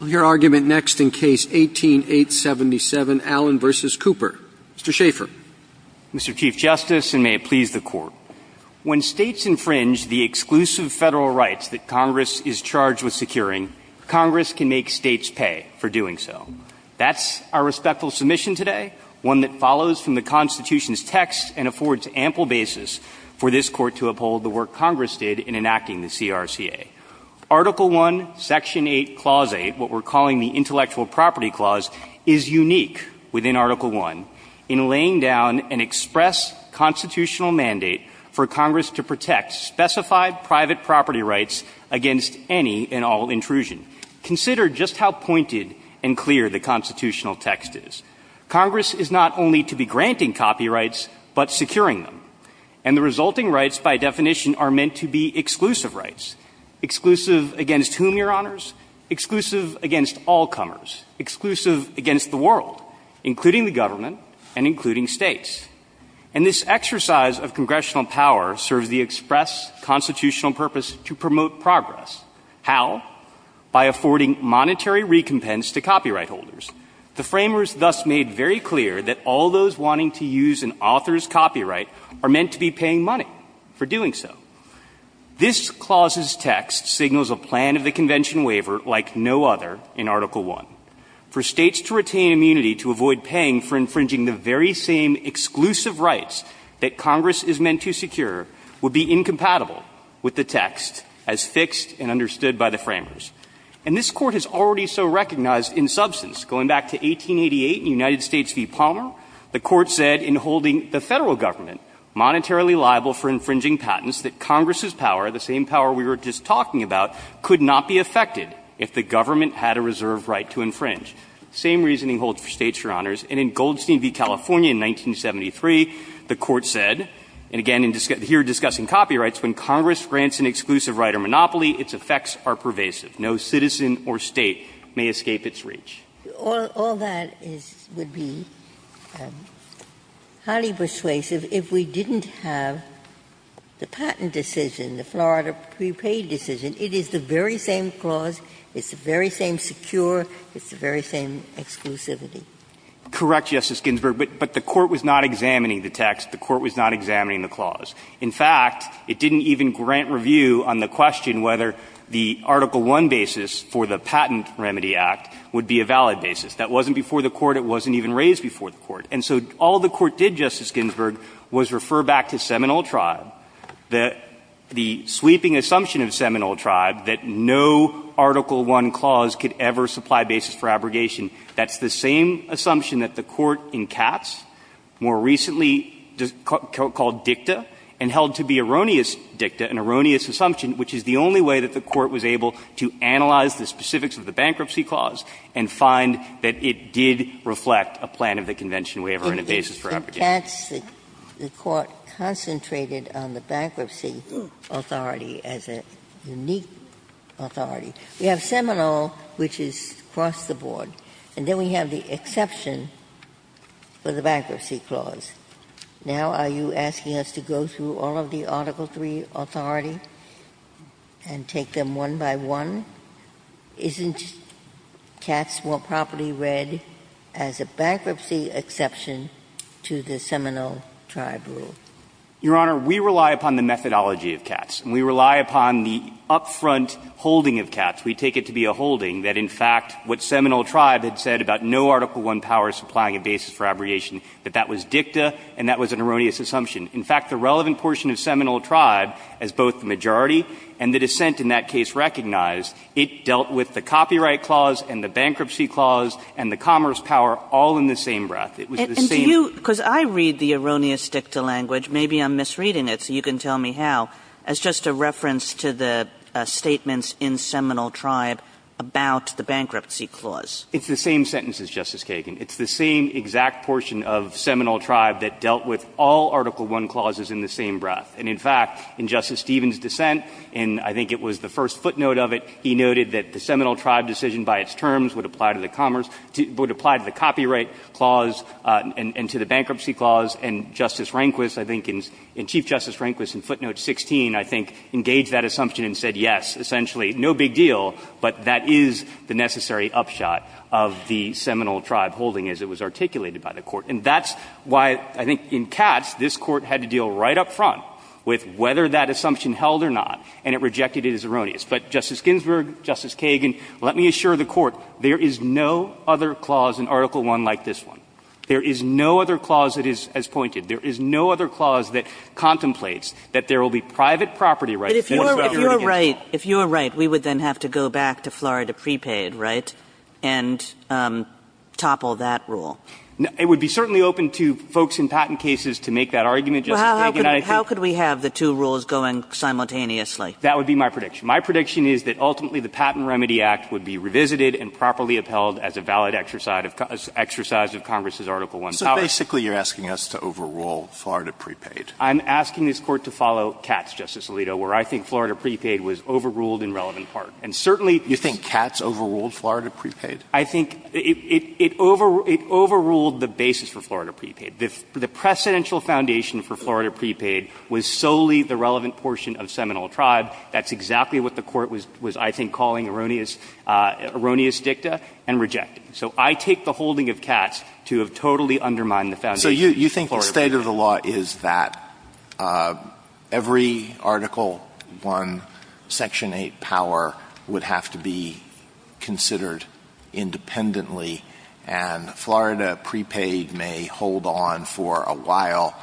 Mr. Chief Justice, and may it please the Court, when States infringe the exclusive Federal rights that Congress is charged with securing, Congress can make States pay for doing so. That's our respectful submission today, one that follows from the Constitution's text and affords ample basis for this Court to uphold the work Congress did in enacting the CRCA. Article I, Section 1, of the Constitution Act, Section 8, Clause 8, what we're calling the Intellectual Property Clause, is unique within Article I in laying down an express constitutional mandate for Congress to protect specified private property rights against any and all intrusion. Consider just how pointed and clear the constitutional text is. Congress is not only to be granting copyrights, but securing them. And the resulting rights, by definition, are meant to be exclusive rights, exclusive against whom, Your Honors? Exclusive against all comers, exclusive against the world, including the government and including States. And this exercise of congressional power serves the express constitutional purpose to promote progress. How? By affording monetary recompense to copyright holders. The framers thus made very clear that all those wanting to use an author's copyright would not be able to do so. This clause's text signals a plan of the convention waiver like no other in Article I. For States to retain immunity to avoid paying for infringing the very same exclusive rights that Congress is meant to secure would be incompatible with the text as fixed and understood by the framers. And this Court has already so recognized in substance, going back to 1888 in United States v. Palmer, the Court said in holding the Federal government monetarily liable for infringing patents that Congress's power, the same power we were just talking about, could not be affected if the government had a reserve right to infringe. Same reasoning holds for States, Your Honors. And in Goldstein v. California in 1973, the Court said, and again here discussing copyrights, when Congress grants an exclusive right or monopoly, its effects are pervasive. No citizen or State may escape its reach. Ginsburg. All that would be highly persuasive if we didn't have the patent decision, the Florida prepaid decision. It is the very same clause. It's the very same secure. It's the very same exclusivity. Correct, Justice Ginsburg. But the Court was not examining the text. The Court was not examining the clause. In fact, it didn't even grant review on the basis. That wasn't before the Court. It wasn't even raised before the Court. And so all the Court did, Justice Ginsburg, was refer back to Seminole Tribe, the sweeping assumption of Seminole Tribe that no Article I clause could ever supply basis for abrogation. That's the same assumption that the Court in Katz more recently called dicta and held to be erroneous dicta, an erroneous assumption, which is the only way that the Court was able to analyze the specifics of the bankruptcy clause and find that it did reflect a plan of the convention waiver and a basis for abrogation. And in Katz, the Court concentrated on the bankruptcy authority as a unique authority. We have Seminole, which is across the board. And then we have the exception for the bankruptcy clause. Now, are you asking us to go through all of the Article III authority and take them one by one? Isn't Katz more properly read as a bankruptcy exception to the Seminole Tribe rule? Your Honor, we rely upon the methodology of Katz. And we rely upon the up-front holding of Katz. We take it to be a holding that, in fact, what Seminole Tribe had said about no Article I power supplying a basis for abrogation, that that was dicta and that was an erroneous assumption. In fact, the relevant portion of Seminole Tribe, as both the majority and the dissent in that case recognized, it dealt with the copyright clause and the bankruptcy clause and the commerce power all in the same breath. It was the same — And do you — because I read the erroneous dicta language, maybe I'm misreading it so you can tell me how, as just a reference to the statements in Seminole Tribe about the bankruptcy clause. It's the same sentence as Justice Kagan. It's the same exact portion of Seminole Tribe that dealt with all Article I clauses in the same breath. And, in fact, in Justice Stevens' dissent, and I think it was the first footnote of it, he noted that the Seminole Tribe decision by its terms would apply to the commerce — would apply to the copyright clause and to the bankruptcy clause. And Justice Rehnquist, I think, and Chief Justice Rehnquist in footnote 16, I think, engaged that assumption and said, yes, essentially, no big deal, but that is the necessary upshot of the Seminole Tribe holding as it was articulated by the Court. And that's why, I think, in Katz, this Court had to deal right up front with whether that assumption held or not, and it rejected it as erroneous. But, Justice Ginsburg, Justice Kagan, let me assure the Court, there is no other clause in Article I like this one. There is no other clause that is as pointed. There is no other clause that contemplates that there will be private property rights. But if you're right, we would then have to go back to Florida prepaid, right, and topple that rule. It would be certainly open to folks in patent cases to make that argument, Justice Kagan. I think — How could we have the two rules going simultaneously? That would be my prediction. My prediction is that ultimately the Patent Remedy Act would be revisited and properly upheld as a valid exercise of Congress's Article I powers. So basically, you're asking us to overrule Florida prepaid. I'm asking this Court to follow Katz, Justice Alito, where I think Florida prepaid was overruled in relevant part. And certainly — You think Katz overruled Florida prepaid? I think it overruled the basis for Florida prepaid. The precedential foundation for Florida prepaid was solely the relevant portion of Seminole Tribe. That's exactly what the Court was, I think, calling erroneous dicta and rejected. So I take the holding of Katz to have totally undermined the foundation of Florida prepaid. So you think the state of the law is that every Article I, Section 8 power would have to be considered independently, and Florida prepaid may hold on for a while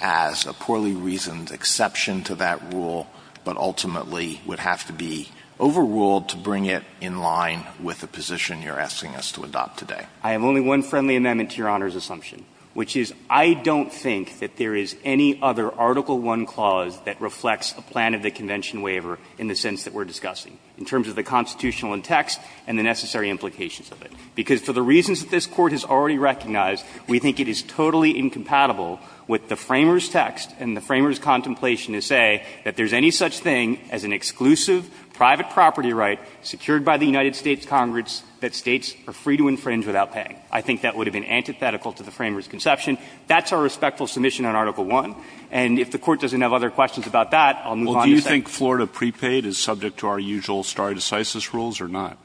as a poorly reasoned exception to that rule, but ultimately would have to be overruled to bring it in line with the position you're asking us to adopt today? I have only one friendly amendment to Your Honor's assumption, which is I don't think that there is any other Article I clause that reflects a plan of the convention waiver in the sense that we're discussing. In terms of the constitutional in text and the necessary implications of it. Because for the reasons that this Court has already recognized, we think it is totally incompatible with the Framers text and the Framers contemplation to say that there's any such thing as an exclusive private property right secured by the United States Congress that states are free to infringe without paying. I think that would have been antithetical to the Framers' conception. That's our respectful submission on Article I. And if the Court doesn't have other questions about that, I'll move on to section 8. The question is whether Florida prepaid is subject to our usual stare decisis rules or not.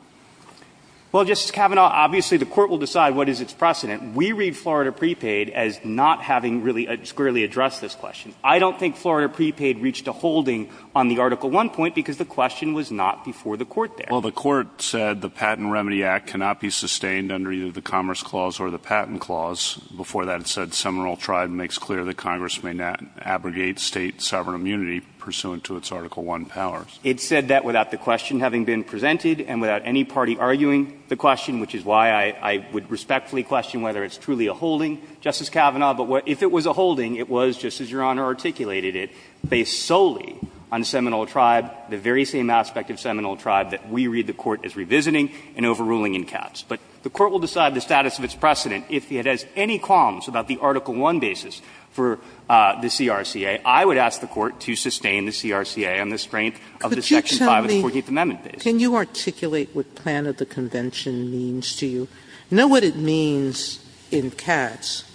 Well, Justice Kavanaugh, obviously the Court will decide what is its precedent. We read Florida prepaid as not having really clearly addressed this question. I don't think Florida prepaid reached a holding on the Article I point because the question was not before the Court there. Well, the Court said the Patent Remedy Act cannot be sustained under either the Commerce Clause or the Patent Clause. Before that, it said Seminole Tribe makes clear that Congress may not abrogate State sovereign immunity pursuant to its Article I powers. It said that without the question having been presented and without any party arguing the question, which is why I would respectfully question whether it's truly a holding, Justice Kavanaugh. But if it was a holding, it was, just as Your Honor articulated it, based solely on Seminole Tribe, the very same aspect of Seminole Tribe that we read the Court as revisiting and overruling in caps. But the Court will decide the status of its precedent if it has any qualms about the Article I basis for the CRCA. I would ask the Court to sustain the CRCA on the strength of the Section 5 of the Fourteenth Amendment basis. Sotomayor, can you articulate what plan of the convention means to you? Know what it means in cats.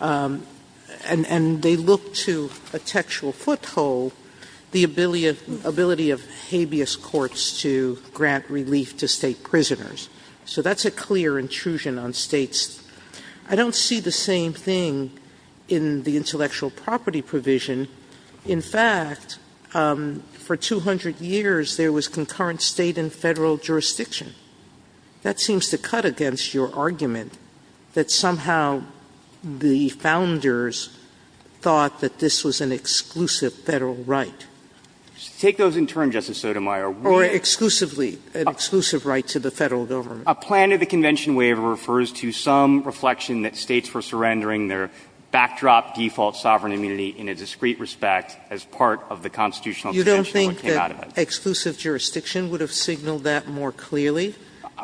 And they look to a textual foothold, the ability of habeas courts to grant relief to State prisoners. So that's a clear intrusion on States. I don't see the same thing in the intellectual property provision. In fact, for 200 years, there was concurrent State and Federal jurisdiction. That seems to cut against your argument that somehow the Founders thought that this was an exclusive Federal right. Take those in turn, Justice Sotomayor. Or exclusively, an exclusive right to the Federal government. A plan of the convention waiver refers to some reflection that States were surrendering their backdrop default sovereign immunity in a discreet respect as part of the constitutional convention that came out of it. You don't think that exclusive jurisdiction would have signaled that more clearly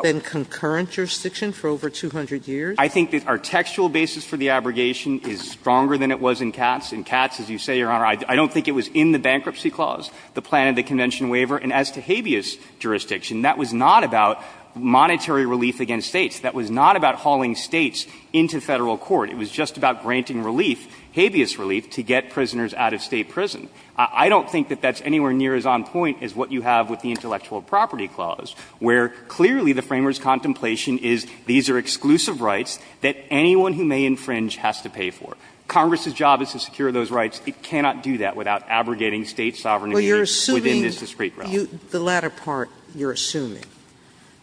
than concurrent jurisdiction for over 200 years? I think that our textual basis for the abrogation is stronger than it was in cats. In cats, as you say, Your Honor, I don't think it was in the bankruptcy clause, the plan of the convention waiver. And as to habeas jurisdiction, that was not about monetary relief against States. That was not about hauling States into Federal court. It was just about granting relief, habeas relief, to get prisoners out of State prison. I don't think that that's anywhere near as on point as what you have with the intellectual property clause, where clearly the framers' contemplation is these are exclusive rights that anyone who may infringe has to pay for. Congress's job is to secure those rights. It cannot do that without abrogating State sovereign immunity within this discreet realm. Sotomayor, the latter part you're assuming.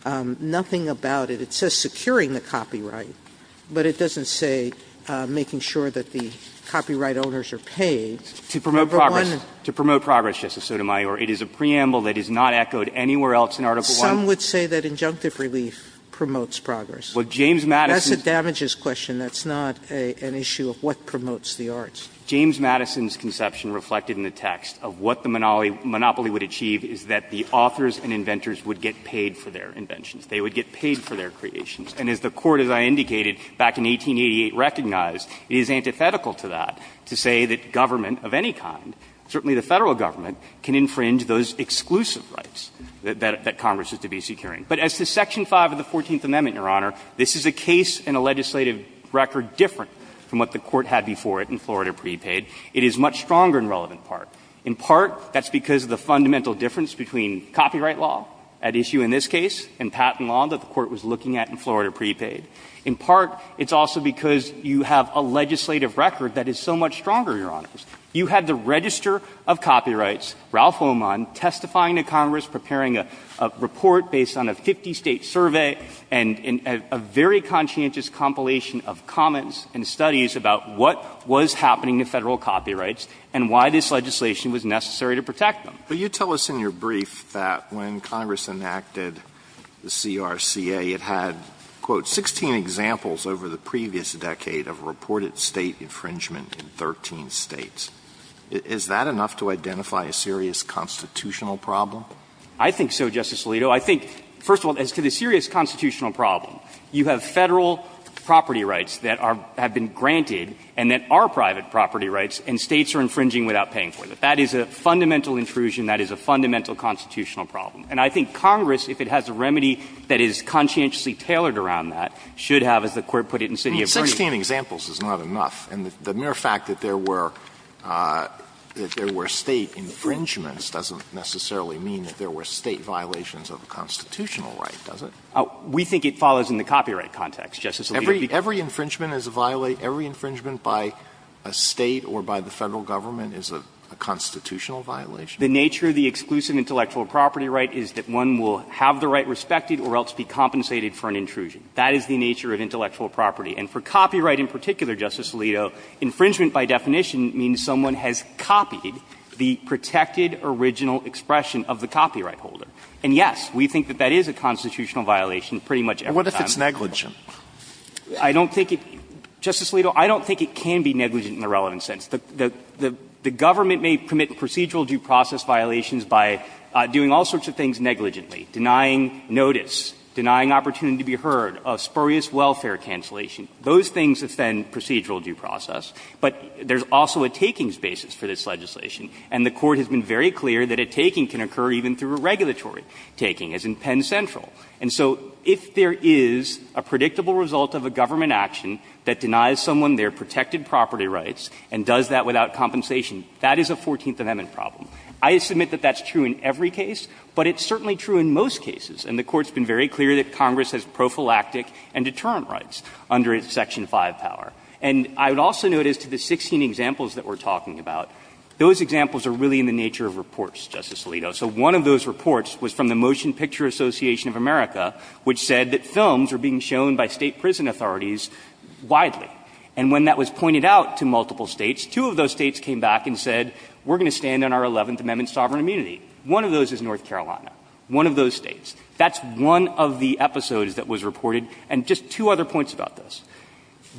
Nothing about it. It says securing the copyright, but it doesn't say making sure that the copyright owners are paid. To promote progress. To promote progress, Justice Sotomayor. It is a preamble that is not echoed anywhere else in Article I. Some would say that injunctive relief promotes progress. Well, James Madison's. That's a damages question. That's not an issue of what promotes the arts. James Madison's conception reflected in the text of what the monopoly would achieve is that the authors and inventors would get paid for their inventions. They would get paid for their creations. And as the Court, as I indicated, back in 1888 recognized, it is antithetical to that to say that government of any kind, certainly the Federal government, can infringe those exclusive rights that Congress is to be securing. But as to section 5 of the Fourteenth Amendment, Your Honor, this is a case and a legislative record different from what the Court had before it in Florida prepaid. It is much stronger in relevant part. In part, that's because of the fundamental difference between copyright law at issue in this case and patent law that the Court was looking at in Florida prepaid. In part, it's also because you have a legislative record that is so much stronger, Your Honors. You had the Register of Copyrights, Ralph Oman, testifying to Congress, preparing a report based on a 50-state survey and a very conscientious compilation of comments and studies about what was happening to Federal copyrights and why this legislation was necessary to protect them. Alito, I think, first of all, as to the serious constitutional problem, you have Federal property rights that are been granted and that are private property rights and States are infringing without paying for them. That's a serious constitutional problem. That is a fundamental intrusion. That is a fundamental constitutional problem. And I think Congress, if it has a remedy that is conscientiously tailored around that, should have, as the Court put it in City of Vernon. Alito, 16 examples is not enough. And the mere fact that there were State infringements doesn't necessarily mean that there were State violations of the constitutional right, does it? We think it follows in the copyright context, Justice Alito. Every infringement is a violation by a State or by the Federal government is a constitutional violation. The nature of the exclusive intellectual property right is that one will have the right respected or else be compensated for an intrusion. That is the nature of intellectual property. And for copyright in particular, Justice Alito, infringement by definition means someone has copied the protected original expression of the copyright holder. And, yes, we think that that is a constitutional violation pretty much every time. But what if it's negligent? I don't think it – Justice Alito, I don't think it can be negligent in the relevant sense. The government may permit procedural due process violations by doing all sorts of things negligently, denying notice, denying opportunity to be heard, spurious welfare cancellation. Those things offend procedural due process. But there is also a takings basis for this legislation. And the Court has been very clear that a taking can occur even through a regulatory taking, as in Penn Central. And so if there is a predictable result of a government action that denies someone their protected property rights and does that without compensation, that is a Fourteenth Amendment problem. I submit that that's true in every case, but it's certainly true in most cases. And the Court's been very clear that Congress has prophylactic and deterrent rights under its Section 5 power. And I would also note as to the 16 examples that we're talking about, those examples are really in the nature of reports, Justice Alito. So one of those reports was from the Motion Picture Association of America, which said that films are being shown by State prison authorities widely. And when that was pointed out to multiple States, two of those States came back and said, we're going to stand on our Eleventh Amendment sovereign immunity. One of those is North Carolina. One of those States. That's one of the episodes that was reported. And just two other points about this.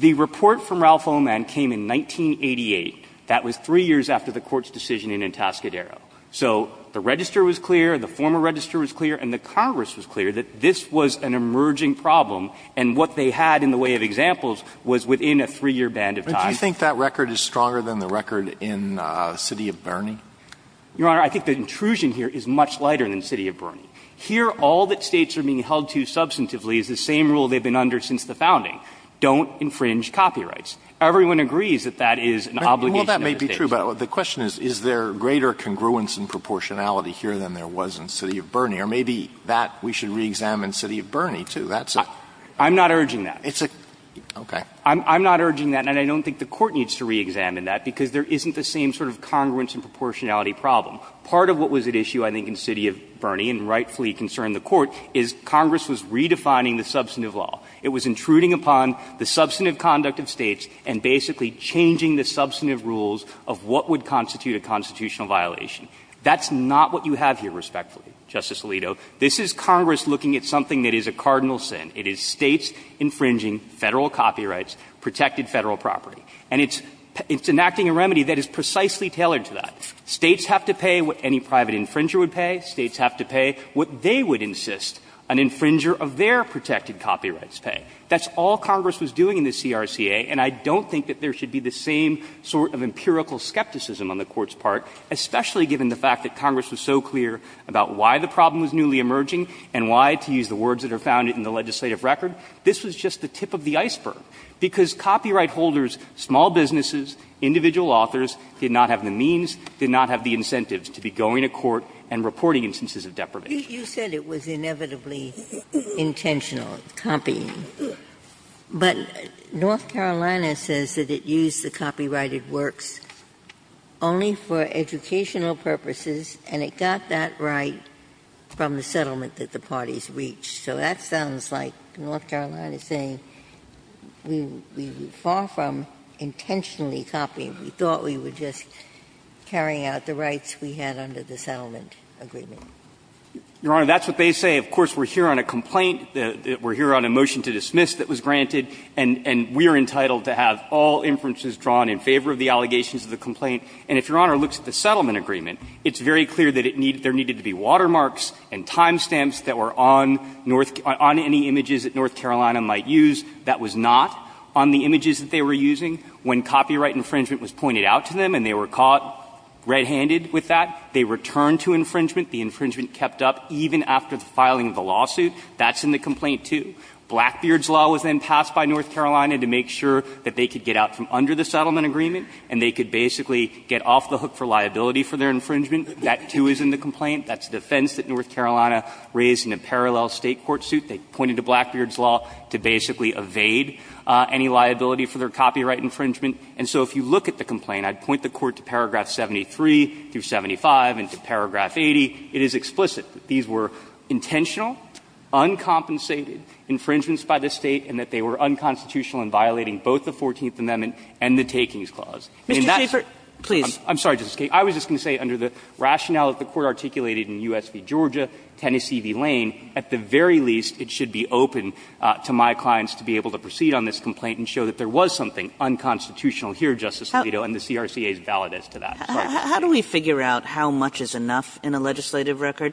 The report from Ralph Oman came in 1988. That was three years after the Court's decision in Entascadero. So the register was clear, the former register was clear, and the Congress was clear that this was an emerging problem. And what they had in the way of examples was within a three-year band of time. But do you think that record is stronger than the record in City of Birney? Your Honor, I think the intrusion here is much lighter than City of Birney. Here, all that States are being held to substantively is the same rule they've been under since the founding. Don't infringe copyrights. Everyone agrees that that is an obligation of the States. Well, that may be true, but the question is, is there greater congruence and proportionality here than there was in City of Birney? Or maybe that we should reexamine City of Birney, too. I'm not urging that. I'm not urging that, and I don't think the Court needs to reexamine that, because there isn't the same sort of congruence and proportionality problem. Part of what was at issue, I think, in City of Birney, and rightfully concern the Court, is Congress was redefining the substantive law. It was intruding upon the substantive conduct of States and basically changing the substantive rules of what would constitute a constitutional violation. That's not what you have here, respectfully, Justice Alito. This is Congress looking at something that is a cardinal sin. It is States infringing Federal copyrights, protected Federal property. And it's enacting a remedy that is precisely tailored to that. States have to pay what any private infringer would pay. States have to pay what they would insist an infringer of their protected copyrights pay. That's all Congress was doing in the CRCA, and I don't think that there should be the same sort of empirical skepticism on the Court's part, especially given the fact that Congress was so clear about why the problem was newly emerging and why, to use the words that are found in the legislative record, this was just the tip of the iceberg, because copyright holders, small businesses, individual authors, did not have the means, did not have the incentives to be going to court and reporting instances of deprivation. Ginsburg. You said it was inevitably intentional, copying. But North Carolina says that it used the copyrighted works only for educational purposes, and it got that right from the settlement that the parties reached. So that sounds like North Carolina saying we were far from intentionally copying. We thought we were just carrying out the rights we had under the settlement agreement. Your Honor, that's what they say. Of course, we're here on a complaint. We're here on a motion to dismiss that was granted, and we are entitled to have all inferences drawn in favor of the allegations of the complaint. And if Your Honor looks at the settlement agreement, it's very clear that it needed to be watermarks and time stamps that were on North – on any images that North Carolina might use. That was not on the images that they were using. When copyright infringement was pointed out to them and they were caught red-handed with that, they returned to infringement. The infringement kept up even after the filing of the lawsuit. That's in the complaint, too. Blackbeard's law was then passed by North Carolina to make sure that they could get out from under the settlement agreement and they could basically get off the hook for liability for their infringement. That, too, is in the complaint. That's a defense that North Carolina raised in a parallel State court suit. They pointed to Blackbeard's law to basically evade any liability for their copyright infringement. And so if you look at the complaint, I'd point the Court to paragraph 73 through 75 and to paragraph 80. It is explicit that these were intentional, uncompensated infringements by the State and that they were unconstitutional in violating both the fourteenth amendment and the Takings Clause. I mean, that's the case. Kagan, I'm sorry, Justice Kagan. I was just going to say under the rationale that the Court articulated in U.S. v. Georgia, Tennessee v. Lane, at the very least it should be open to my clients to be able to proceed on this complaint and show that there was something unconstitutional here, Justice Alito, and the CRCA is valid as to that. Kagan. Kagan. Kagan. Kagan. Kagan. Kagan. Kagan. Kagan.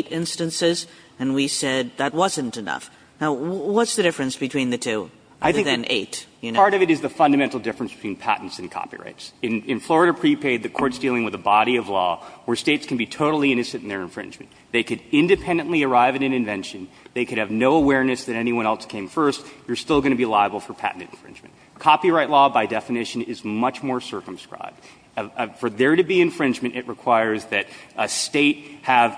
Kagan. Kagan. Kagan. Kagan. Now, what's the difference between the two, other than eight, you know? Part of it is the fundamental difference between patents and copyrights. In Florida prepaid, the Court's dealing with a body of law where States can be totally innocent in their infringement. They could independently arrive at an invention. They could have no awareness that anyone else came first. You're still going to be liable for patent infringement. Copyright law, by definition, is much more circumscribed. For there to be infringement, it requires that a State have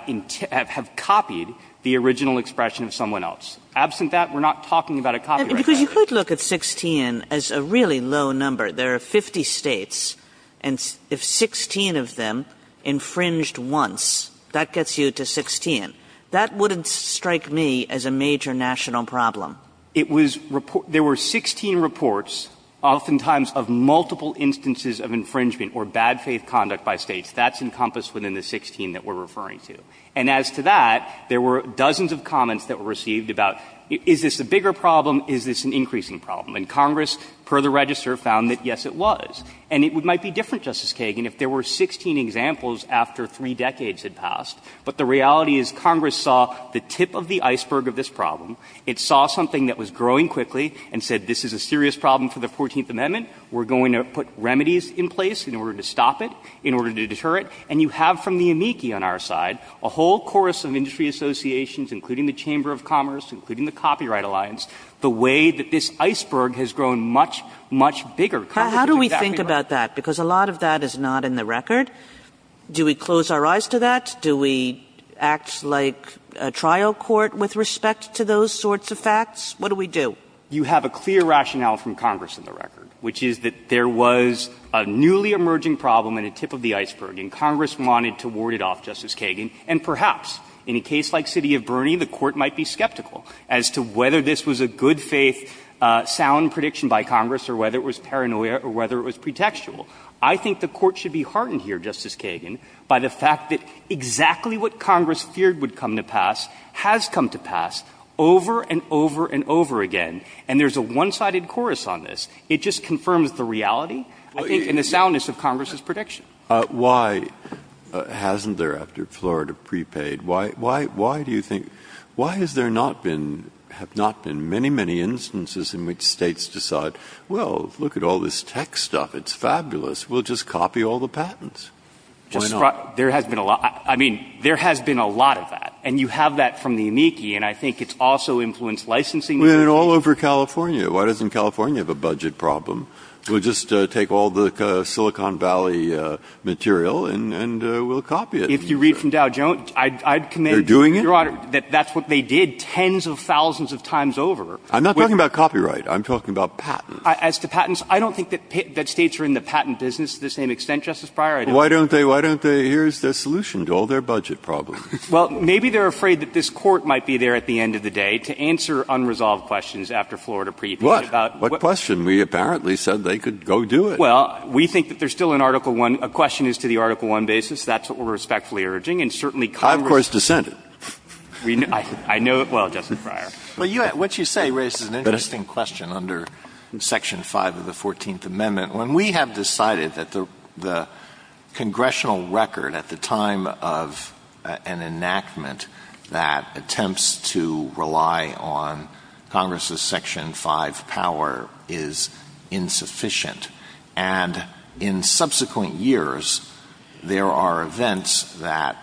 copied the original expression of someone else. Absent that, we're not talking about a copyright infringement. Kagan because you could look at 16 as a really low number. There are 50 States and if 16 of them infringed once, that gets you to 16. That wouldn't strike me as a major national problem. It was report – there were 16 reports, oftentimes of multiple instances of infringement or bad faithful conduct by States. That's encompassed within the 16 that we're referring to and as to that, there were dozens of comments that were received about is this a bigger problem, is this an increasing problem? And Congress, per the register, found that, yes, it was. And it might be different, Justice Kagan, if there were 16 examples after three decades had passed, but the reality is Congress saw the tip of the iceberg of this problem. It saw something that was growing quickly and said this is a serious problem for the Fourteenth Amendment. We're going to put remedies in place in order to stop it, in order to deter it. And you have from the amici on our side a whole chorus of industry associations, including the Chamber of Commerce, including the Copyright Alliance, the way that this iceberg has grown much, much bigger. Congress is exactly right. Kagan. How do we think about that? Because a lot of that is not in the record. Do we close our eyes to that? Do we act like a trial court with respect to those sorts of facts? What do we do? You have a clear rationale from Congress in the record, which is that there was a newly emerging problem and a tip of the iceberg, and Congress wanted to ward it off, Justice Kagan, and perhaps in a case like City of Burney, the Court might be skeptical as to whether this was a good-faith sound prediction by Congress or whether it was paranoia or whether it was pretextual. I think the Court should be heartened here, Justice Kagan, by the fact that exactly what Congress feared would come to pass has come to pass over and over and over again, and there's a one-sided chorus on this. It just confirms the reality, I think, and the soundness of Congress's prediction. Breyer. Why hasn't there, after Florida prepaid, why do you think — why has there not been — have not been many, many instances in which States decide, well, look at all this tech stuff, it's fabulous, we'll just copy all the patents? Why not? There has been a lot. I mean, there has been a lot of that, and you have that from the amici, and I think it's also influenced licensing regulations. And all over California, why doesn't California have a budget problem? We'll just take all the Silicon Valley material and we'll copy it. If you read from Dow Jones, I'd commend, Your Honor, that that's what they did tens of thousands of times over. I'm not talking about copyright. I'm talking about patents. As to patents, I don't think that States are in the patent business to the same extent, Justice Breyer. Why don't they — why don't they — here's the solution to all their budget problems. Well, maybe they're afraid that this Court might be there at the end of the day to answer unresolved questions after Florida pre-patch about — What? What question? We apparently said they could go do it. Well, we think that there's still an Article I — a question is to the Article I basis. That's what we're respectfully urging. And certainly Congress — I, of course, dissent it. I know — well, Justice Breyer. But you — what you say raises an interesting question under Section 5 of the 14th Amendment. When we have decided that the congressional record at the time of an enactment that attempts to rely on Congress's Section 5 power is insufficient, and in subsequent years, there are events that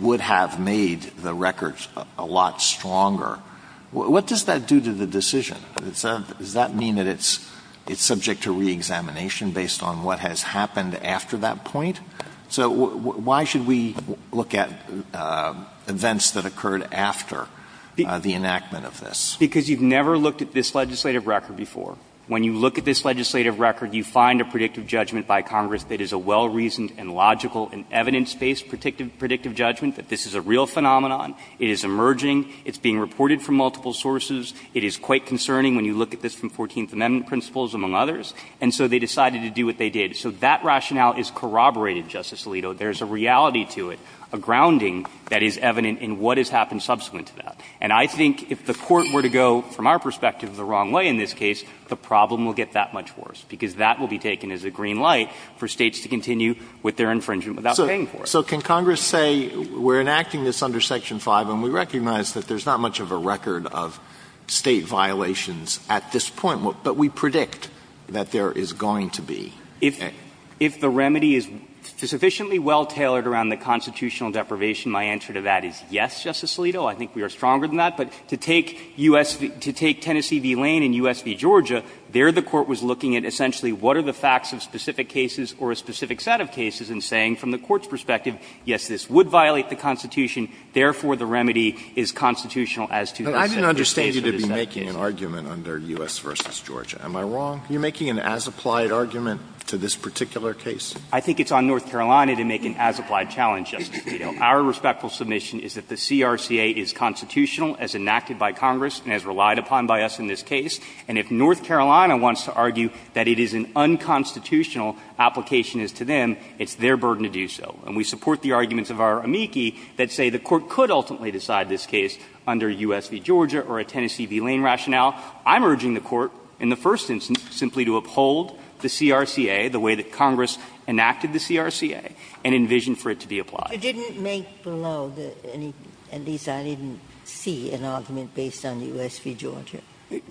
would have made the records a lot stronger, what does that do to the decision? Does that mean that it's subject to reexamination based on what has happened after that point? So why should we look at events that occurred after the enactment of this? Because you've never looked at this legislative record before. When you look at this legislative record, you find a predictive judgment by Congress that is a well-reasoned and logical and evidence-based predictive judgment, that this is a real phenomenon. It is emerging. It's being reported from multiple sources. It is quite concerning when you look at this from 14th Amendment principles, among others. And so they decided to do what they did. So that rationale is corroborated, Justice Alito. There's a reality to it, a grounding that is evident in what has happened subsequent to that. And I think if the Court were to go, from our perspective, the wrong way in this case, the problem will get that much worse, because that will be taken as a green light for States to continue with their infringement without paying for it. So can Congress say we're enacting this under Section 5 and we recognize that there's not much of a record of State violations at this point, but we predict that there is going to be a record? If the remedy is sufficiently well-tailored around the constitutional deprivation, my answer to that is yes, Justice Alito. I think we are stronger than that. But to take U.S. to take Tennessee v. Lane and U.S. v. Georgia, there the Court was looking at essentially what are the facts of specific cases or a specific set of cases, and saying from the Court's perspective, yes, this would violate the Constitution, therefore the remedy is constitutional as to that. Alito, I didn't understand you to be making an argument under U.S. v. Georgia. Am I wrong? You're making an as-applied argument to this particular case? I think it's on North Carolina to make an as-applied challenge, Justice Alito. Our respectful submission is that the CRCA is constitutional as enacted by Congress and as relied upon by us in this case. And if North Carolina wants to argue that it is an unconstitutional application as to them, it's their burden to do so. And we support the arguments of our amici that say the Court could ultimately decide this case under U.S. v. Georgia or a Tennessee v. Lane rationale. I'm urging the Court in the first instance simply to uphold the CRCA the way that Congress enacted the CRCA and envision for it to be applied. You didn't make below the any at least I didn't see an argument based on U.S. v. Georgia.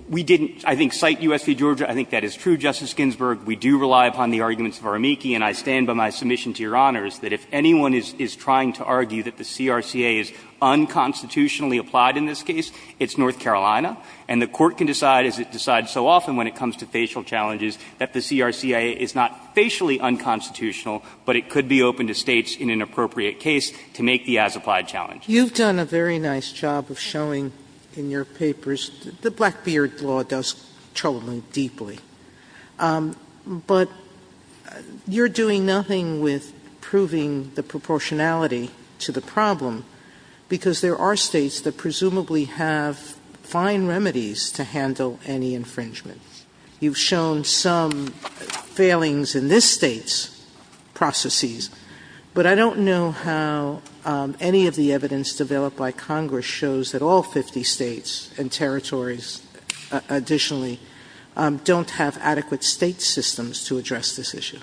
We didn't, I think, cite U.S. v. Georgia. I think that is true, Justice Ginsburg. We do rely upon the arguments of our amici, and I stand by my submission to Your Honors that if anyone is trying to argue that the CRCA is unconstitutionally applied in this case, it's North Carolina, and the Court can decide, as it decides so often when it comes to facial challenges, that the CRCA is not facially unconstitutional, but it could be open to States in an appropriate case to make the as-applied challenge. Sotomayor, you've done a very nice job of showing in your papers, the Blackbeard law does trouble me deeply, but you're doing nothing with proving the proportionality to the problem, because there are States that presumably have fine remedies to handle any infringement. You've shown some failings in this State's processes, but I don't know how any of the evidence developed by Congress shows that all 50 States and territories, additionally, don't have adequate State systems to address this issue.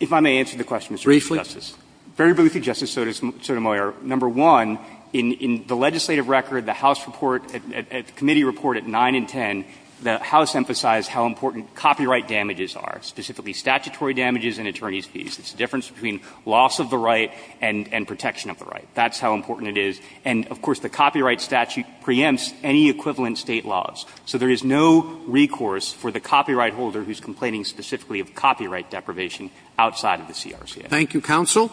If I may answer the question, Mr. Chief Justice. Very briefly, Justice Sotomayor, number one, in the legislative record, the House report, the committee report at 9 and 10, the House emphasized how important copyright damages are, specifically statutory damages and attorneys' fees. It's the difference between loss of the right and protection of the right. That's how important it is. And, of course, the copyright statute preempts any equivalent State laws. So there is no recourse for the copyright holder who's complaining specifically of copyright deprivation outside of the CRCA. Thank you, counsel.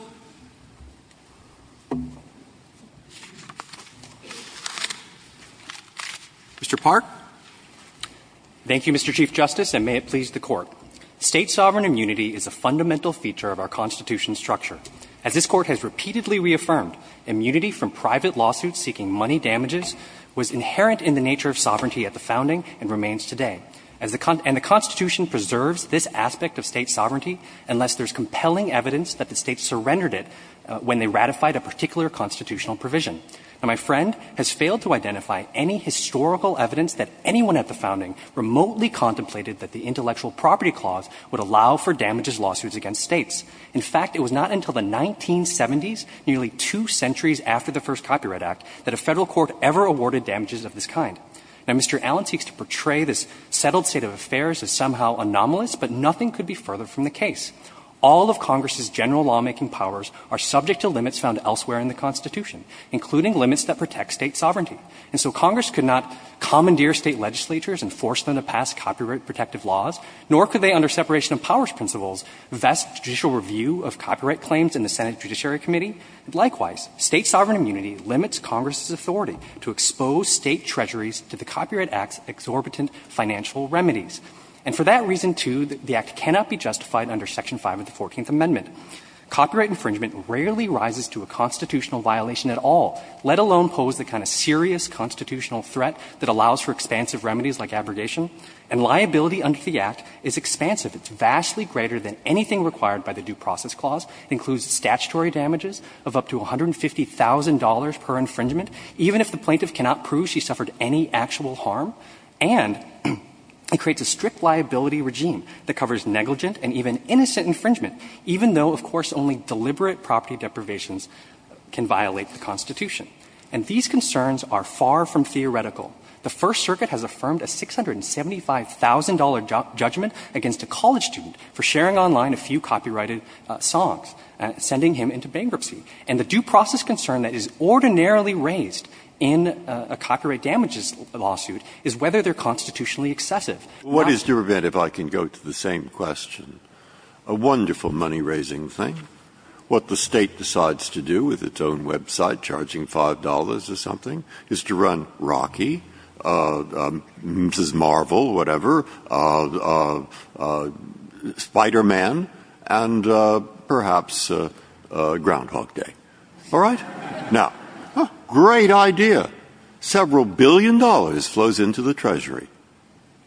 Mr. Park. Thank you, Mr. Chief Justice, and may it please the Court. State sovereign immunity is a fundamental feature of our Constitution's structure. As this Court has repeatedly reaffirmed, immunity from private lawsuits seeking money damages was inherent in the nature of sovereignty at the founding and remains today. And the Constitution preserves this aspect of State sovereignty unless there's evidence that the State surrendered it when they ratified a particular constitutional provision. Now, my friend has failed to identify any historical evidence that anyone at the founding remotely contemplated that the Intellectual Property Clause would allow for damages lawsuits against States. In fact, it was not until the 1970s, nearly two centuries after the first Copyright Act, that a Federal court ever awarded damages of this kind. Now, Mr. Allen seeks to portray this settled state of affairs as somehow anomalous, but nothing could be further from the case. All of Congress's general lawmaking powers are subject to limits found elsewhere in the Constitution, including limits that protect State sovereignty. And so Congress could not commandeer State legislatures and force them to pass copyright protective laws, nor could they under separation of powers principles vest judicial review of copyright claims in the Senate Judiciary Committee. Likewise, State sovereign immunity limits Congress's authority to expose State treasuries to the Copyright Act's exorbitant financial remedies. And for that reason, too, the Act cannot be justified under Section 5 of the Fourteenth Amendment. Copyright infringement rarely rises to a constitutional violation at all, let alone pose the kind of serious constitutional threat that allows for expansive remedies like abrogation. And liability under the Act is expansive. It's vastly greater than anything required by the Due Process Clause. It includes statutory damages of up to $150,000 per infringement, even if the plaintiff cannot prove she suffered any actual harm. And it creates a strict liability regime that covers negligent and even innocent infringement, even though, of course, only deliberate property deprivations can violate the Constitution. And these concerns are far from theoretical. The First Circuit has affirmed a $675,000 judgment against a college student for sharing online a few copyrighted songs, sending him into bankruptcy. And the due process concern that is ordinarily raised in a copyright damages lawsuit is whether they're constitutionally excessive. What is to prevent, if I can go to the same question, a wonderful money-raising thing, what the State decides to do with its own website, charging $5 or something, is to run Rocky, Mrs. Marvel, whatever, Spider-Man, and perhaps Groundhog Day. All right? Now, great idea. Several billion dollars flows into the Treasury.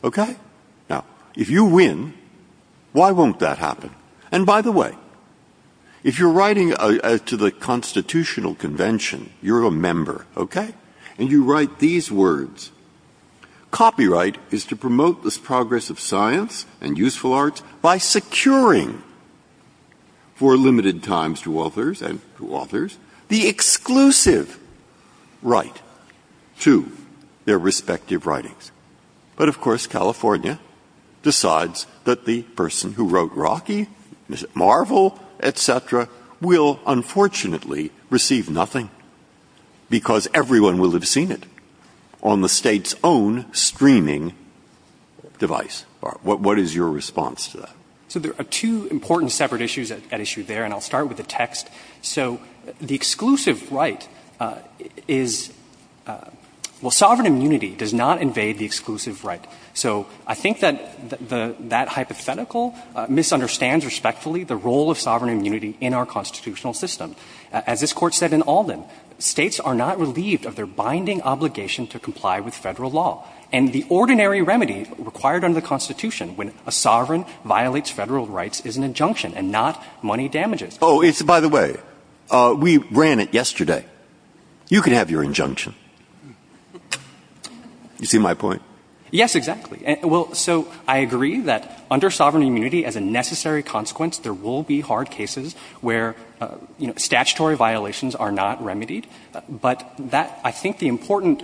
OK? Now, if you win, why won't that happen? And by the way, if you're writing to the Constitutional Convention, you're a member, OK, and you write these words, copyright is to promote this progress of science and useful arts by securing for limited times to authors, and to authors, the exclusive right to their respective writings. But of course, California decides that the person who wrote Rocky, Mrs. Marvel, et cetera, will unfortunately receive nothing, because everyone will have seen it on the State's own streaming device. What is your response to that? So there are two important separate issues at issue there, and I'll start with the text. So the exclusive right is, well, sovereign immunity does not invade the exclusive right. So I think that hypothetical misunderstands respectfully the role of sovereign immunity in our constitutional system. As this Court said in Alden, states are not relieved of their binding obligation to comply with federal law. And the ordinary remedy required under the Constitution when a sovereign violates federal rights is an injunction, and not money damages. Oh, it's, by the way, we ran it yesterday. You could have your injunction. You see my point? Yes, exactly. Well, so I agree that under sovereign immunity, as a necessary consequence, there will be hard cases where statutory violations are not remedied. But that, I think the important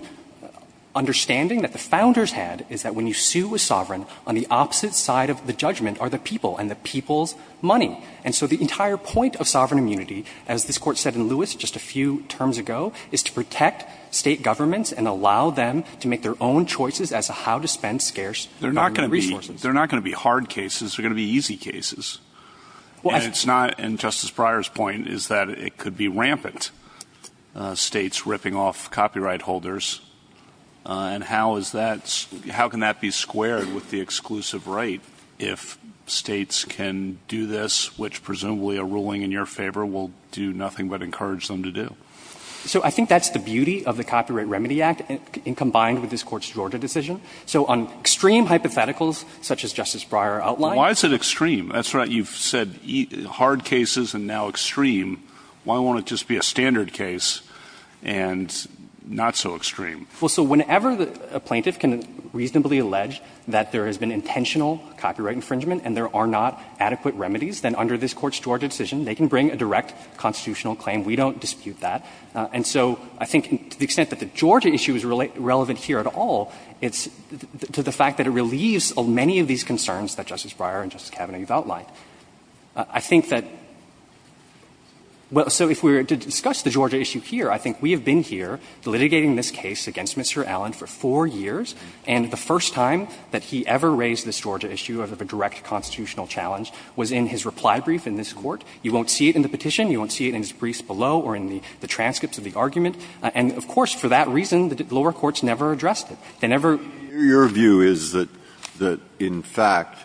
understanding that the founders had is that when you sue a sovereign, on the opposite side of the judgment are the people and the people's money. And so the entire point of sovereign immunity, as this Court said in Lewis just a few terms ago, is to protect state governments and allow them to make their own choices as to how to spend scarce government resources. They're not going to be hard cases. They're going to be easy cases. And it's not, and Justice Breyer's point is that it could be rampant, states ripping off copyright holders, and how is that, how can that be squared with the which presumably a ruling in your favor will do nothing but encourage them to do? So I think that's the beauty of the Copyright Remedy Act, and combined with this Court's Georgia decision. So on extreme hypotheticals, such as Justice Breyer outlined. Why is it extreme? That's right, you've said hard cases and now extreme. Why won't it just be a standard case and not so extreme? Well, so whenever a plaintiff can reasonably allege that there has been intentional copyright infringement and there are not adequate remedies, then under this Court's Georgia decision, they can bring a direct constitutional claim. We don't dispute that. And so I think to the extent that the Georgia issue is relevant here at all, it's to the fact that it relieves many of these concerns that Justice Breyer and Justice Kavanaugh have outlined. I think that, well, so if we were to discuss the Georgia issue here, I think we have been here litigating this case against Mr. Allen for four years, and the first time that he ever raised this Georgia issue as a direct constitutional challenge was in his reply brief in this Court. You won't see it in the petition. You won't see it in his briefs below or in the transcripts of the argument. And of course, for that reason, the lower courts never addressed it. They never ---- Breyer's view is that in fact,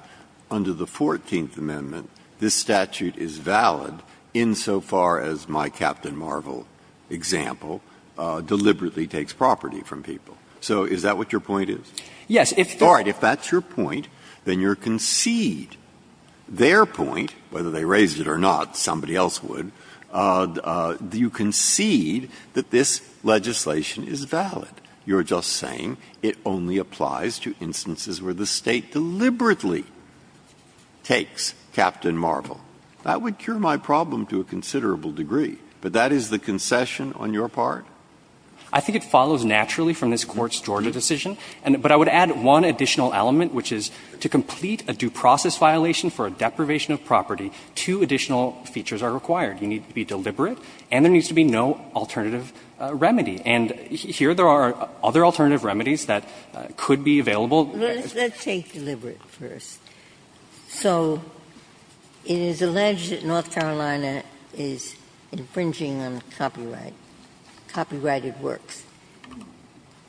under the Fourteenth Amendment, this statute is valid insofar as my Captain Marvel example deliberately takes property from people. So is that what your point is? Yes. All right. If that's your point, then you concede their point, whether they raised it or not, somebody else would, you concede that this legislation is valid. You are just saying it only applies to instances where the State deliberately takes Captain Marvel. That would cure my problem to a considerable degree. But that is the concession on your part? I think it follows naturally from this Court's Georgia decision. But I would add one additional element, which is to complete a due process violation for a deprivation of property, two additional features are required. You need to be deliberate and there needs to be no alternative remedy. And here there are other alternative remedies that could be available. Let's take deliberate first. So it is alleged that North Carolina is infringing on copyright, copyrighted works.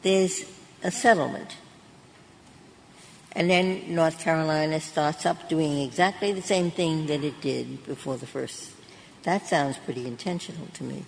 There is a settlement. And then North Carolina starts up doing exactly the same thing that it did before the first. That sounds pretty intentional to me.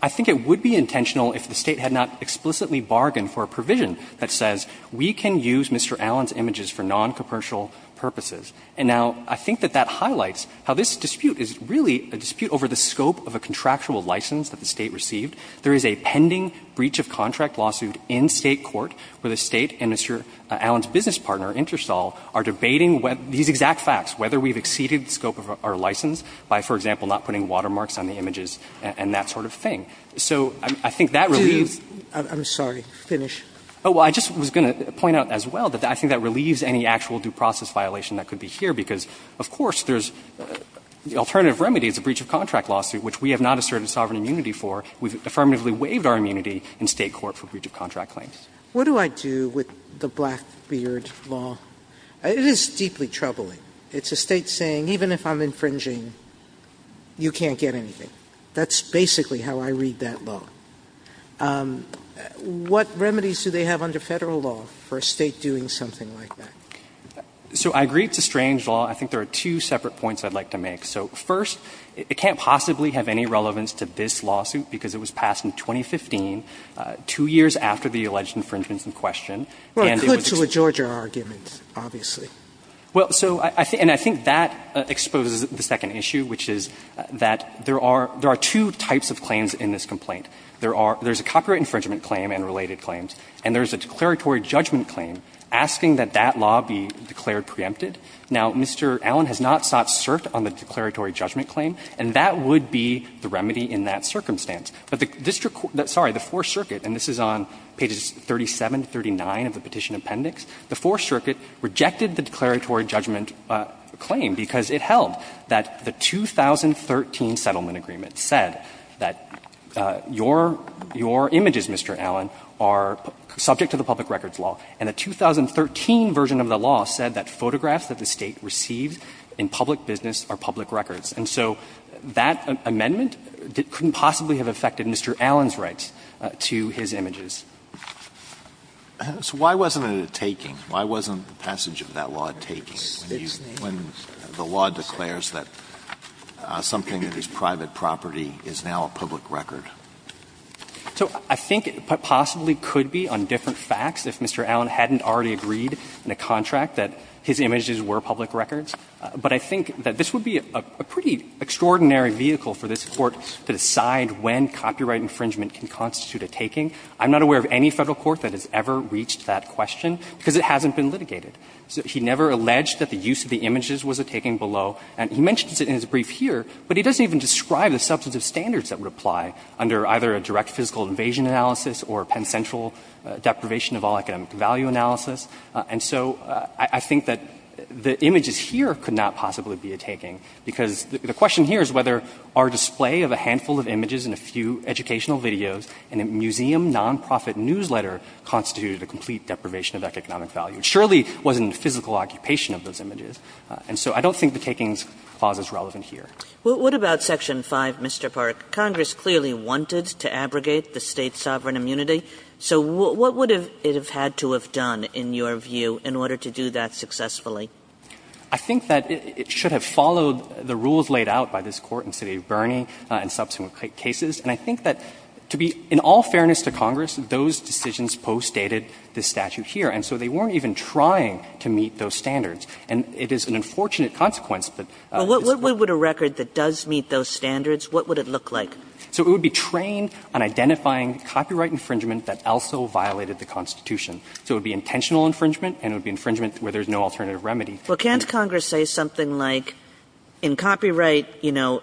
I think it would be intentional if the State had not explicitly bargained for a provision that says we can use Mr. Allen's images for noncommercial purposes. And now, I think that that highlights how this dispute is really a dispute over the scope of a contractual license that the State received. There is a pending breach of contract lawsuit in State court where the State and Mr. Allen's business partner, Interstall, are debating these exact facts, whether we have exceeded the scope of our license by, for example, not putting watermarks on the images and that sort of thing. So I think that relieves. Sotomayor, I'm sorry. Finish. Oh, well, I just was going to point out as well that I think that relieves any actual due process violation that could be here, because of course there's the alternative remedy is a breach of contract lawsuit, which we have not asserted sovereign immunity for. We've affirmatively waived our immunity in State court for breach of contract Sotomayor, what do I do with the Blackbeard law? It is deeply troubling. It's a State saying even if I'm infringing, you can't get anything. That's basically how I read that law. What remedies do they have under Federal law for a State doing something like that? So I agree it's a strange law. I think there are two separate points I'd like to make. So first, it can't possibly have any relevance to this lawsuit, because it was passed in 2015, two years after the alleged infringements in question. Sotomayor, well, it could to a Georgia argument, obviously. Well, so I think that exposes the second issue, which is that there are two types of claims in this complaint. There's a copyright infringement claim and related claims, and there's a declaratory judgment claim asking that that law be declared preempted. Now, Mr. Allen has not sought cert on the declaratory judgment claim, and that would be the remedy in that circumstance. But the district court – sorry, the Fourth Circuit, and this is on pages 37 to 39 of the Petition Appendix, the Fourth Circuit rejected the declaratory judgment claim because it held that the 2013 settlement agreement said that your images, Mr. Allen, are subject to the public records law, and the 2013 version of the law said that photographs that the State received in public business are public records. And so that amendment couldn't possibly have affected Mr. Allen's rights to his images. So why wasn't it a taking? Why wasn't the passage of that law a taking, when the law declares that something that is private property is now a public record? So I think it possibly could be, on different facts, if Mr. Allen hadn't already agreed in a contract that his images were public records. But I think that this would be a pretty extraordinary vehicle for this Court to decide when copyright infringement can constitute a taking. I'm not aware of any Federal court that has ever reached that question because it hasn't been litigated. He never alleged that the use of the images was a taking below, and he mentions it in his brief here, but he doesn't even describe the substantive standards that would apply under either a direct physical invasion analysis or a penitential deprivation of all economic value analysis. And so I think that the images here could not possibly be a taking, because the question here is whether our display of a handful of images and a few educational videos in a museum nonprofit newsletter constituted a complete deprivation of economic value. It surely wasn't the physical occupation of those images. And so I don't think the takings clause is relevant here. Kagan. Kagan. Kagan. Kagan. Kagan. Kagan. Kagan. Kagan. Kagan. Kagan. Kagan. Kagan. Kagan. I think that it should have followed the rules laid out by this Court in city of Burney and subsequent cases. And I think that to be an all fairness to Congress, those decisions postdated the statute here. And so they weren't even trying to meet those standards. And it is an unfortunate consequence that it's not there. Kagan. Kagan. Kagan. Kagan. Kagan, because it's a document that requires a trademark infringement, as would be the death of an incriminating terrorist. It's an infringement, and it would be infringement where there's no alternative remedy. Kagan. Well, can't Congress say something like, in copyright, you know,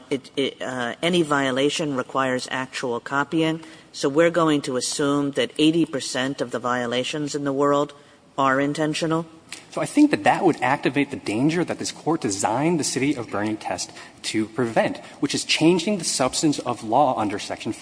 any violation requires actual copying? So we're going to assume that 80 percent of the violations in the world are intentional? So I think that that would activate the danger that this Court designed the city of Burney test to prevent, which is changing the substance of law under Section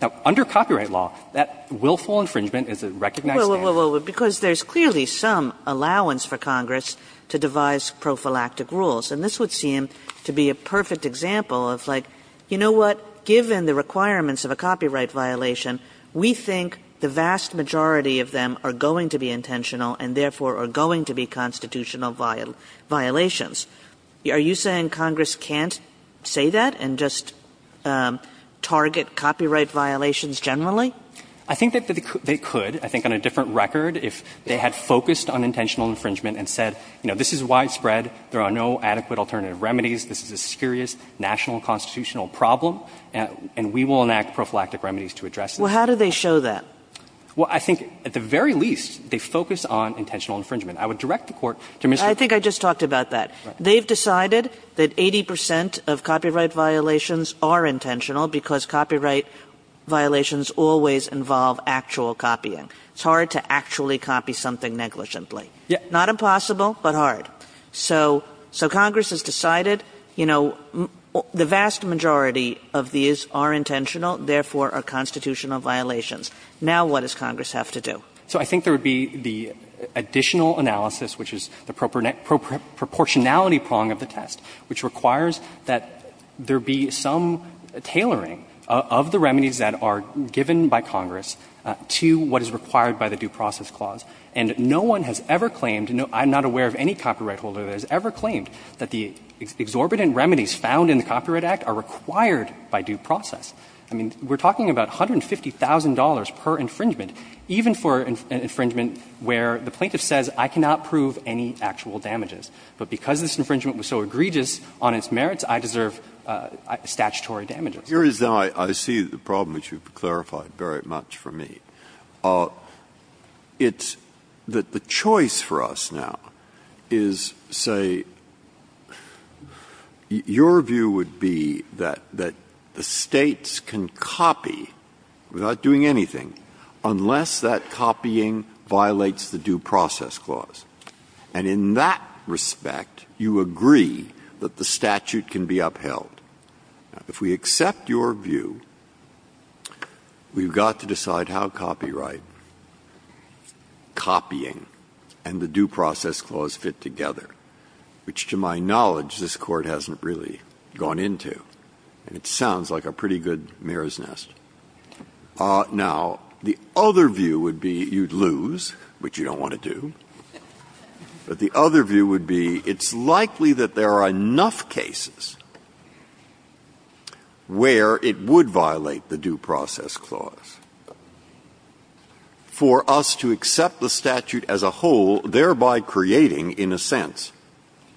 Now, under copyright law, that willful infringement is a recognized standard. Well, because there's clearly some allowance for Congress to devise prophylactic rules. And this would seem to be a perfect example of, like, you know what, given the requirements of a copyright violation, we think the vast majority of them are going to be intentional and, therefore, are going to be constitutional violations. Are you saying Congress can't say that and just target copyright violations generally? I think that they could. I think on a different record, if they had focused on intentional infringement and said, you know, this is widespread, there are no adequate alternative remedies, this is a serious national constitutional problem, and we will enact prophylactic remedies to address this. Well, how do they show that? Well, I think at the very least, they focus on intentional infringement. I would direct the Court to Mr. Koenig. I think I just talked about that. They've decided that 80 percent of copyright violations are intentional because copyright violations always involve actual copying. It's hard to actually copy something negligently. Not impossible, but hard. So Congress has decided, you know, the vast majority of these are intentional, therefore are constitutional violations. Now what does Congress have to do? So I think there would be the additional analysis, which is the proportionality of the test, which requires that there be some tailoring of the remedies that are given by Congress to what is required by the Due Process Clause, and no one has ever claimed, I'm not aware of any copyright holder that has ever claimed that the exorbitant remedies found in the Copyright Act are required by Due Process. I mean, we're talking about $150,000 per infringement, even for an infringement where the plaintiff says, I cannot prove any actual damages, but because this infringement was so egregious on its merits, I deserve statutory damages. Breyer. Here is now I see the problem, which you've clarified very much for me. It's that the choice for us now is, say, your view would be that the States can copy without doing anything, unless that copying violates the Due Process Clause. And in that respect, you agree that the statute can be upheld. If we accept your view, we've got to decide how copyright, copying, and the Due Process Clause fit together, which, to my knowledge, this Court hasn't really gone into. And it sounds like a pretty good mirror's nest. Now, the other view would be you'd lose, which you don't want to do. But the other view would be it's likely that there are enough cases where it would violate the Due Process Clause for us to accept the statute as a whole, thereby creating, in a sense,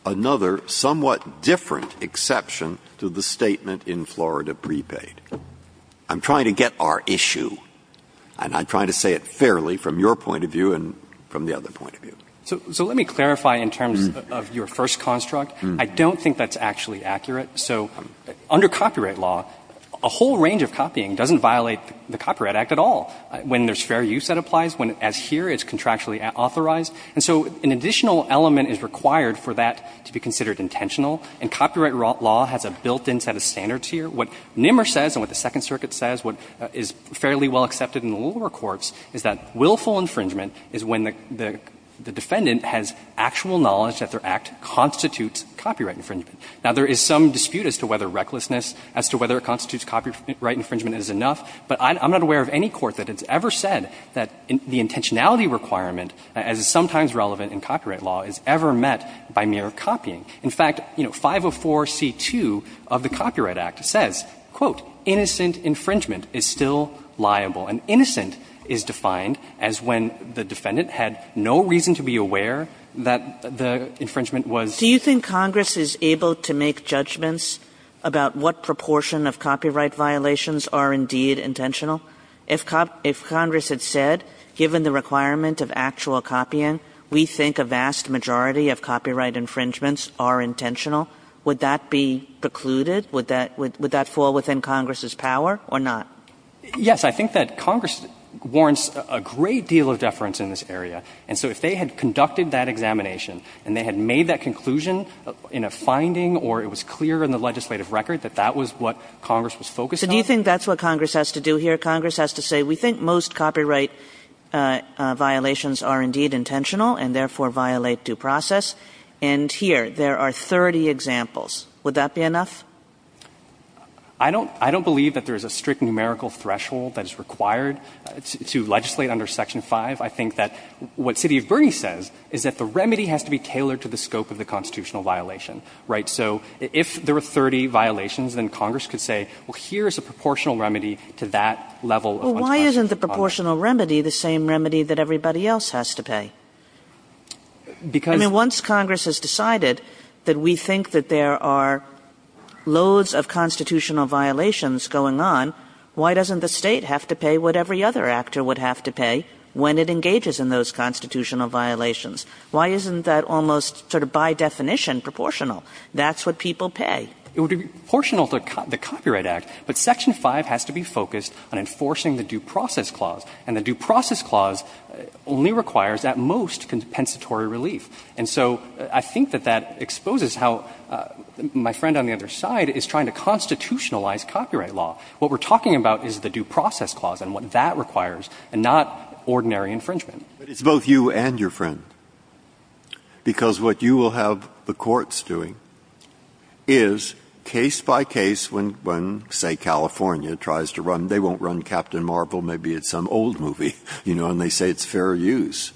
another somewhat different exception to the statement in Florida prepaid. I'm trying to get our issue, and I'm trying to say it fairly from your point of view and from the other point of view. So let me clarify in terms of your first construct. I don't think that's actually accurate. So under copyright law, a whole range of copying doesn't violate the Copyright Act at all, when there's fair use that applies, when, as here, it's contractually authorized. And so an additional element is required for that to be considered intentional, and copyright law has a built-in set of standards here. What Nimmer says and what the Second Circuit says, what is fairly well accepted in the lower courts, is that willful infringement is when the defendant has actual knowledge that their act constitutes copyright infringement. Now, there is some dispute as to whether recklessness, as to whether it constitutes copyright infringement is enough, but I'm not aware of any court that has ever said that the intentionality requirement, as is sometimes relevant in copyright law, is ever met by mere copying. In fact, you know, 504c2 of the Copyright Act says, quote, innocent infringement is still liable. And innocent is defined as when the defendant had no reason to be aware that the infringement was. Kagan. Do you think Congress is able to make judgments about what proportion of copyright violations are indeed intentional? If Congress had said, given the requirement of actual copying, we think a vast majority of copyright infringements are intentional, would that be precluded? Would that fall within Congress's power or not? Yes. I think that Congress warrants a great deal of deference in this area. And so if they had conducted that examination and they had made that conclusion in a finding or it was clear in the legislative record that that was what Congress was focused on. So do you think that's what Congress has to do here? Congress has to say, we think most copyright violations are indeed intentional and therefore violate due process. And here, there are 30 examples. Would that be enough? I don't believe that there is a strict numerical threshold that is required to legislate under Section 5. I think that what City of Bernie says is that the remedy has to be tailored to the scope of the constitutional violation, right? So if there were 30 violations, then Congress could say, well, here is a proportional remedy to that level of unconstitutional copyright. Well, why isn't the proportional remedy the same remedy that everybody else has to pay? Because the ones Congress has decided that we think that there are loads of constitutional violations going on, why doesn't the State have to pay what every other actor would have to pay when it engages in those constitutional violations? Why isn't that almost sort of by definition proportional? That's what people pay. It would be proportional to the Copyright Act, but Section 5 has to be focused on enforcing the Due Process Clause. And the Due Process Clause only requires at most compensatory relief. And so I think that that exposes how my friend on the other side is trying to constitutionalize copyright law. What we're talking about is the Due Process Clause and what that requires, and not ordinary infringement. Breyer. But it's both you and your friend, because what you will have the courts doing is, case by case, when, say, California tries to run, they won't run Captain Marvel, maybe it's some old movie, you know, and they say it's fair use.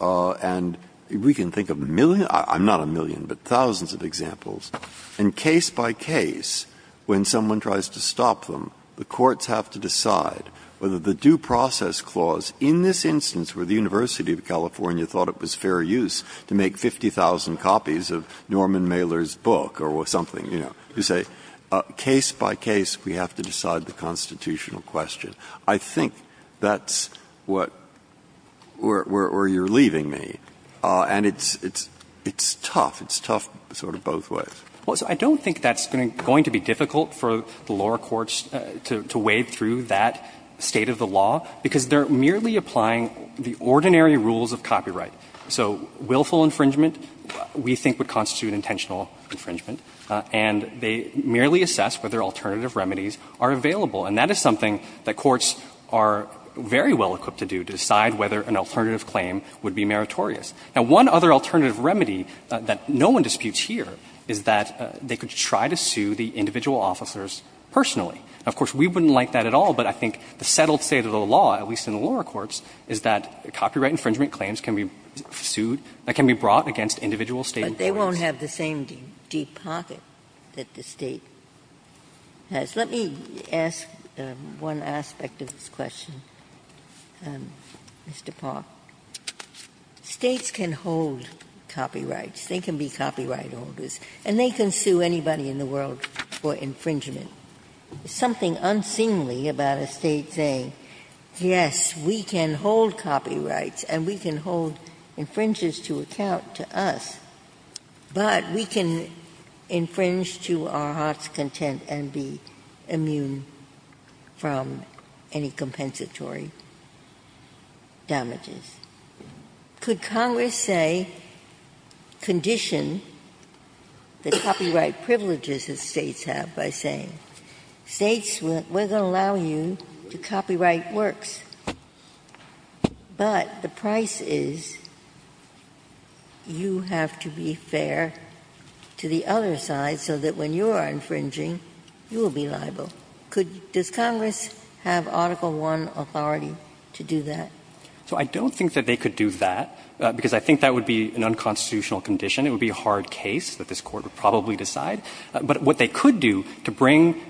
And we can think of a million — I'm not a million, but thousands of examples. And case by case, when someone tries to stop them, the courts have to decide whether the Due Process Clause in this instance, where the University of California thought it was fair use to make 50,000 copies of Norman Mailer's book or something, you know, you say, case by case, we have to decide the constitutional question. I think that's what — where you're leaving me. And it's tough. It's tough sort of both ways. Well, I don't think that's going to be difficult for the lower courts to wade through that state of the law, because they're merely applying the ordinary rules of copyright. So willful infringement, we think, would constitute intentional infringement. And they merely assess whether alternative remedies are available. And that is something that courts are very well-equipped to do, to decide whether an alternative claim would be meritorious. Now, one other alternative remedy that no one disputes here is that they could try to sue the individual officers personally. Now, of course, we wouldn't like that at all, but I think the settled state of the law, at least in the lower courts, is that copyright infringement claims can be sued — can be brought against individual State employees. But they won't have the same deep pocket that the State has. Let me ask one aspect of this question, Mr. Park. States can hold copyrights. They can be copyright holders. And they can sue anybody in the world for infringement. Is something unseemly about a State saying, yes, we can hold copyrights, and we can hold infringers to account to us, but we can infringe to our heart's content and be immune from any compensatory damages? Could Congress say — condition the copyright privileges that States have by saying, States, we're going to allow you to copyright works, but the price is you have to be fair to the other side so that when you are infringing, you will be liable? Could — does Congress have Article I authority to do that? So I don't think that they could do that, because I think that would be an unconstitutional condition. It would be a hard case that this Court would probably decide. But what they could do to bring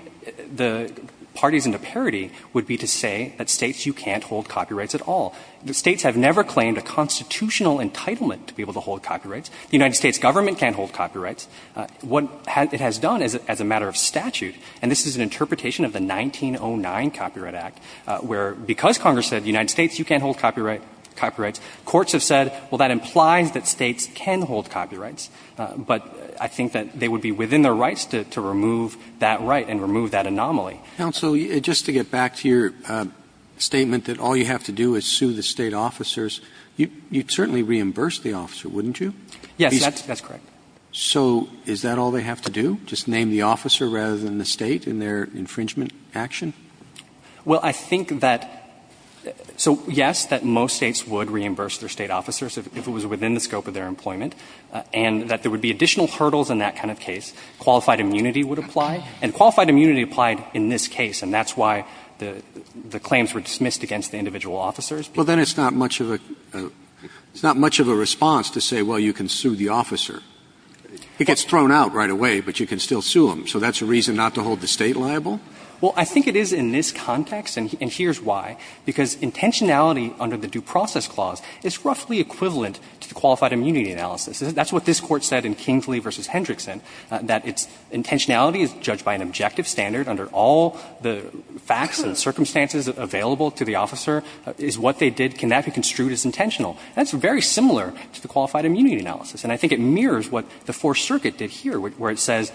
the parties into parity would be to say that States, you can't hold copyrights at all. States have never claimed a constitutional entitlement to be able to hold copyrights. The United States Government can't hold copyrights. What it has done as a matter of statute, and this is an interpretation of the 1909 Copyright Act, where because Congress said the United States, you can't hold copyrights, courts have said, well, that implies that States can hold copyrights. But I think that they would be within their rights to remove that right and remove that anomaly. Counsel, just to get back to your statement that all you have to do is sue the State officers, you'd certainly reimburse the officer, wouldn't you? Yes, that's correct. So is that all they have to do, just name the officer rather than the State in their infringement action? Well, I think that — so, yes, that most States would reimburse their State officers if it was within the scope of their employment, and that there would be additional hurdles in that kind of case. Qualified immunity would apply, and qualified immunity applied in this case, and that's why the claims were dismissed against the individual officers. Well, then it's not much of a — it's not much of a response to say, well, you can sue the officer. It gets thrown out right away, but you can still sue him. So that's a reason not to hold the State liable? Well, I think it is in this context, and here's why. Because intentionality under the Due Process Clause is roughly equivalent to the qualified immunity analysis. That's what this Court said in Kingsley v. Hendrickson, that its intentionality is judged by an objective standard under all the facts and circumstances available to the officer, is what they did, can that be construed as intentional. That's very similar to the qualified immunity analysis, and I think it mirrors what the Fourth Circuit did here, where it says,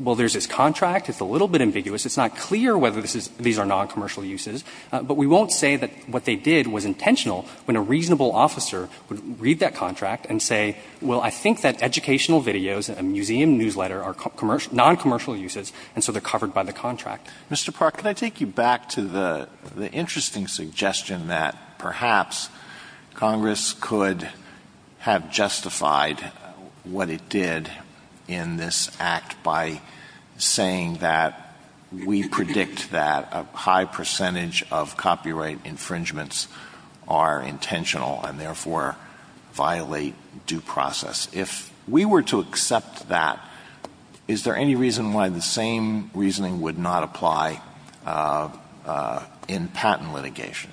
well, there's this contract, it's a little bit ambiguous, it's not clear whether these are noncommercial uses, but we won't say that what they did was intentional when a reasonable officer would read that contract and say, well, I think that educational videos and a museum newsletter are noncommercial uses, and so they're covered by the contract. Mr. Park, can I take you back to the interesting suggestion that perhaps Congress could have justified what it did in this Act by saying that we predict that a high percentage of copyright infringements are intentional and, therefore, violate due process. If we were to accept that, is there any reason why the same reasoning would not apply in patent litigation?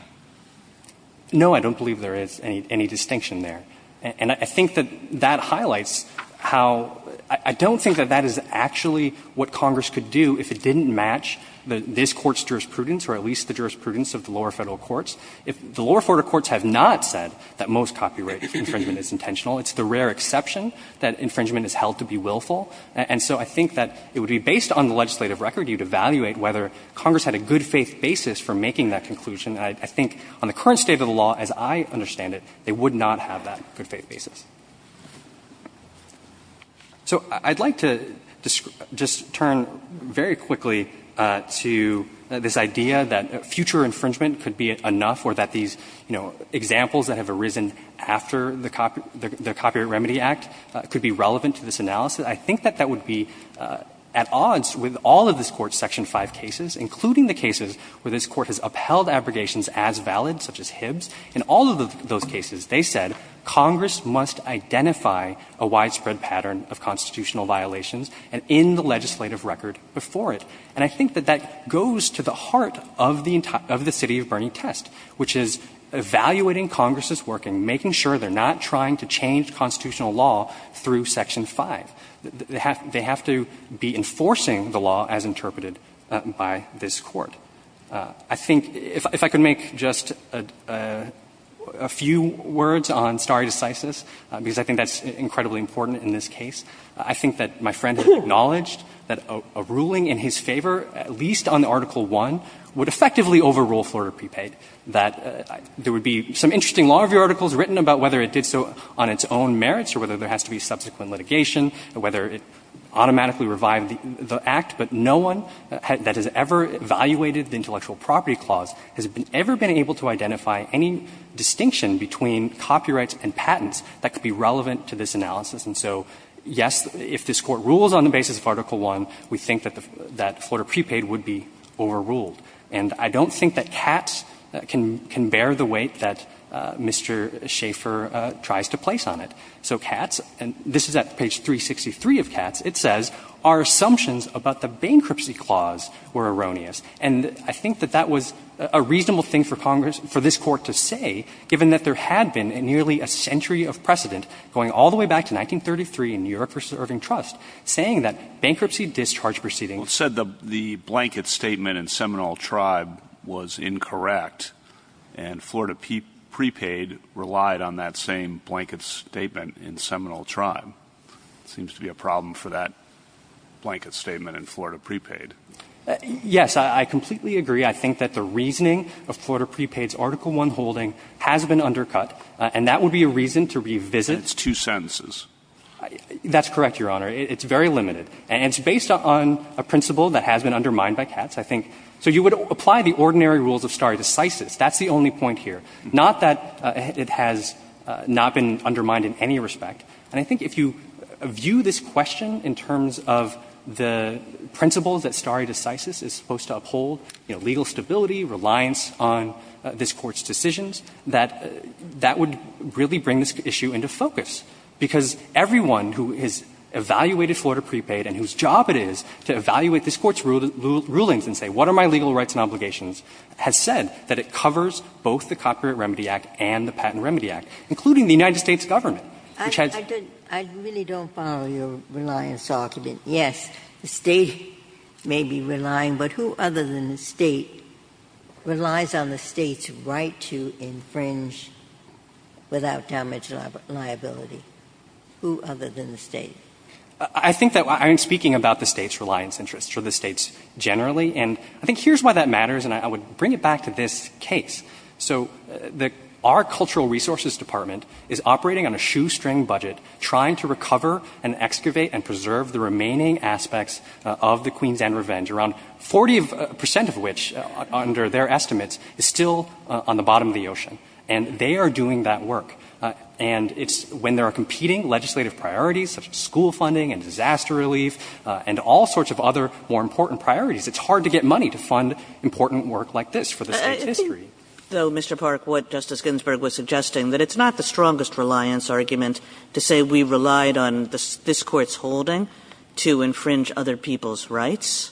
No, I don't believe there is any distinction there. And I think that that highlights how — I don't think that that is actually what the lower federal courts have not said that most copyright infringement is intentional. It's the rare exception that infringement is held to be willful. And so I think that it would be based on the legislative record. You'd evaluate whether Congress had a good-faith basis for making that conclusion. I think on the current state of the law, as I understand it, they would not have that good-faith basis. So I'd like to just turn very quickly to this idea that future infringement could be enough or that these, you know, examples that have arisen after the Copyright Remedy Act could be relevant to this analysis. I think that that would be at odds with all of this Court's Section 5 cases, including the cases where this Court has upheld abrogations as valid, such as Hibbs. In all of those cases, they said Congress must identify a widespread pattern of constitutional violations, and in the legislative record before it. And I think that that goes to the heart of the City of Burney test, which is evaluating Congress's work and making sure they're not trying to change constitutional law through Section 5. They have to be enforcing the law as interpreted by this Court. I think if I could make just a few words on stare decisis, because I think that's incredibly important in this case. I think that my friend acknowledged that a ruling in his favor, at least on Article 1, would effectively overrule Florida prepaid, that there would be some interesting law review articles written about whether it did so on its own merits or whether there has to be subsequent litigation, whether it automatically revived the Act, but no one that has ever evaluated the Intellectual Property Clause has ever been able to identify any distinction between copyrights and patents that could be relevant to this analysis. And so, yes, if this Court rules on the basis of Article 1, we think that Florida prepaid would be overruled. And I don't think that Katz can bear the weight that Mr. Schaeffer tries to place on it. So Katz, and this is at page 363 of Katz, it says, Our assumptions about the bankruptcy clause were erroneous. And I think that that was a reasonable thing for Congress, for this Court to say, given that there had been nearly a century of precedent going all the way back to 1933 in New York v. Irving Trust, saying that bankruptcy discharge proceedings -- Well, it said the blanket statement in Seminole Tribe was incorrect, and Florida prepaid relied on that same blanket statement in Seminole Tribe. It seems to be a problem for that blanket statement in Florida prepaid. Yes. I completely agree. I think that the reasoning of Florida prepaid's Article 1 holding has been undercut, and that would be a reason to revisit. It's two sentences. That's correct, Your Honor. It's very limited. And it's based on a principle that has been undermined by Katz, I think. So you would apply the ordinary rules of stare decisis. That's the only point here. Not that it has not been undermined in any respect. And I think if you view this question in terms of the principles that stare decisis is supposed to uphold, you know, legal stability, reliance on this Court's decisions, that that would really bring this issue into focus, because everyone who has evaluated Florida prepaid and whose job it is to evaluate this Court's rulings and say, what are my legal rights and obligations, has said that it covers both the Copyright Remedy Act and the Patent Remedy Act, including the United States government, which has — I really don't follow your reliance argument. Yes, the State may be relying, but who other than the State relies on the State's right to infringe without damage liability? Who other than the State? I think that I'm speaking about the State's reliance interests or the State's generally. And I think here's why that matters, and I would bring it back to this case. So our Cultural Resources Department is operating on a shoestring budget, trying to recover and excavate and preserve the remaining aspects of the Queens and Revenge, around 40 percent of which, under their estimates, is still on the bottom of the ocean. And they are doing that work. And it's — when there are competing legislative priorities, such as school funding and disaster relief and all sorts of other more important priorities, it's hard to get money to fund important work like this for the State's history. Though, Mr. Park, what Justice Ginsburg was suggesting, that it's not the strongest reliance argument to say we relied on this Court's holding to infringe other people's rights.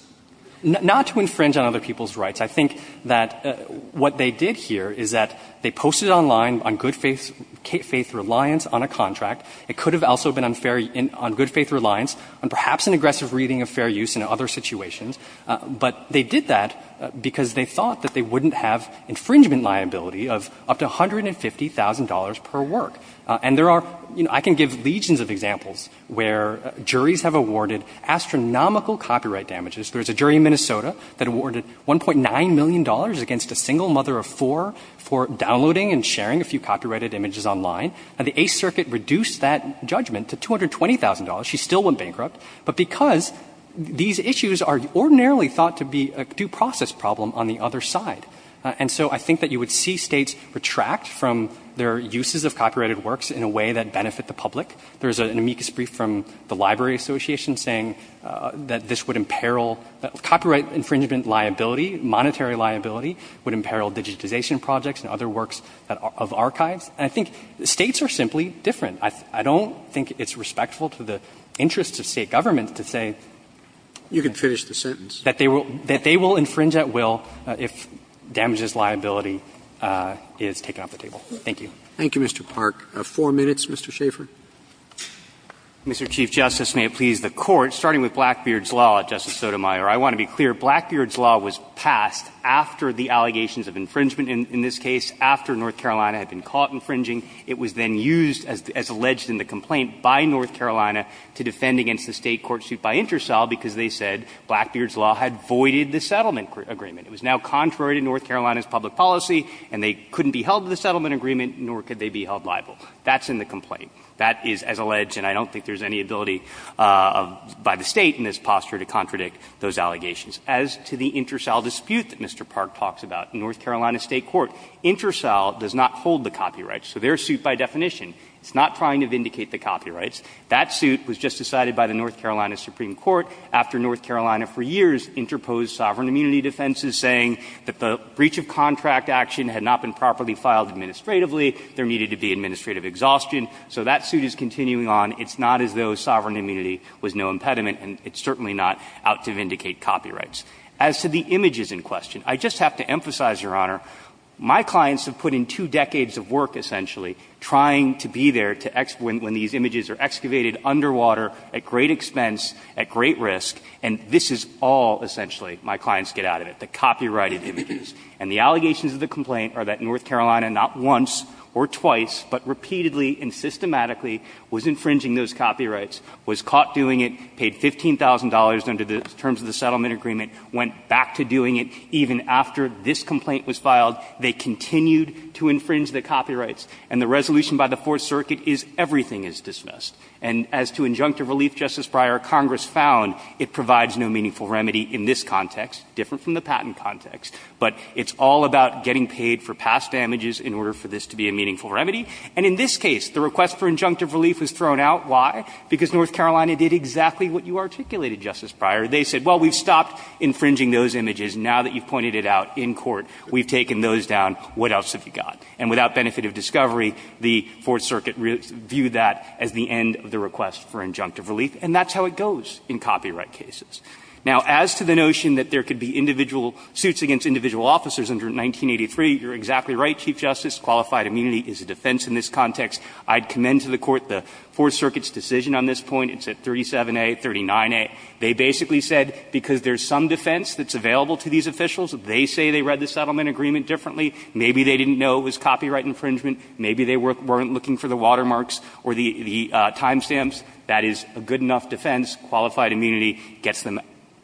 Not to infringe on other people's rights. I think that what they did here is that they posted online on good faith — faith reliance on a contract. It could have also been unfair — on good faith reliance on perhaps an aggressive reading of fair use in other situations. But they did that because they thought that they wouldn't have infringement liability of up to $150,000 per work. And there are — you know, I can give legions of examples where juries have awarded astronomical copyright damages. There's a jury in Minnesota that awarded $1.9 million against a single mother of four for downloading and sharing a few copyrighted images online. And the Eighth Circuit reduced that judgment to $220,000. She still went bankrupt. But because these issues are ordinarily thought to be a due process problem on the other side. And so I think that you would see states retract from their uses of copyrighted works in a way that benefit the public. There's an amicus brief from the Library Association saying that this would imperil — copyright infringement liability, monetary liability would imperil digitization projects and other works of archives. And I think states are simply different. I don't think it's respectful to the interests of State government to say that they will infringe at will if damages liability is taken off the table. Thank you. Roberts. Thank you, Mr. Park. Four minutes, Mr. Schaffer. Mr. Chief Justice, may it please the Court, starting with Blackbeard's law, Justice Sotomayor, I want to be clear, Blackbeard's law was passed after the allegations of infringement in this case, after North Carolina had been caught infringing. It was then used as alleged in the complaint by North Carolina to defend against the State court suit by Intercel because they said Blackbeard's law had voided the settlement agreement. It was now contrary to North Carolina's public policy, and they couldn't be held to the settlement agreement, nor could they be held liable. That's in the complaint. That is as alleged, and I don't think there's any ability by the State in this posture to contradict those allegations. As to the Intercel dispute that Mr. Park talks about, North Carolina State court, Intercel does not hold the copyright. So their suit by definition, it's not trying to vindicate the copyrights. That suit was just decided by the North Carolina Supreme Court after North Carolina for years interposed sovereign immunity defenses, saying that the breach of contract action had not been properly filed administratively, there needed to be administrative exhaustion. So that suit is continuing on. It's not as though sovereign immunity was no impediment, and it's certainly not out to vindicate copyrights. As to the images in question, I just have to emphasize, Your Honor, my clients have put in two decades of work, essentially, trying to be there when these images are excavated underwater, at great expense, at great risk, and this is all, essentially, my clients get out of it, the copyrighted images. And the allegations of the complaint are that North Carolina not once or twice, but repeatedly and systematically was infringing those copyrights, was caught doing it, paid $15,000 under the terms of the settlement agreement, went back to doing it, even after this complaint was filed, they continued to infringe the copyrights. And the resolution by the Fourth Circuit is everything is dismissed. And as to injunctive relief, Justice Breyer, Congress found it provides no meaningful remedy in this context, different from the patent context, but it's all about getting paid for past damages in order for this to be a meaningful remedy. And in this case, the request for injunctive relief was thrown out. Why? Because North Carolina did exactly what you articulated, Justice Breyer. They said, well, we've stopped infringing those images. Now that you've pointed it out in court, we've taken those down. What else have you got? And without benefit of discovery, the Fourth Circuit viewed that as the end of the request for injunctive relief, and that's how it goes in copyright cases. Now, as to the notion that there could be individual suits against individual officers under 1983, you're exactly right, Chief Justice. Qualified immunity is a defense in this context. I'd commend to the Court the Fourth Circuit's decision on this point. It's at 37A, 39A. They basically said, because there's some defense that's available to these officials, they say they read the settlement agreement differently. Maybe they didn't know it was copyright infringement. Maybe they weren't looking for the watermarks or the timestamps. That is a good enough defense. Qualified immunity gets them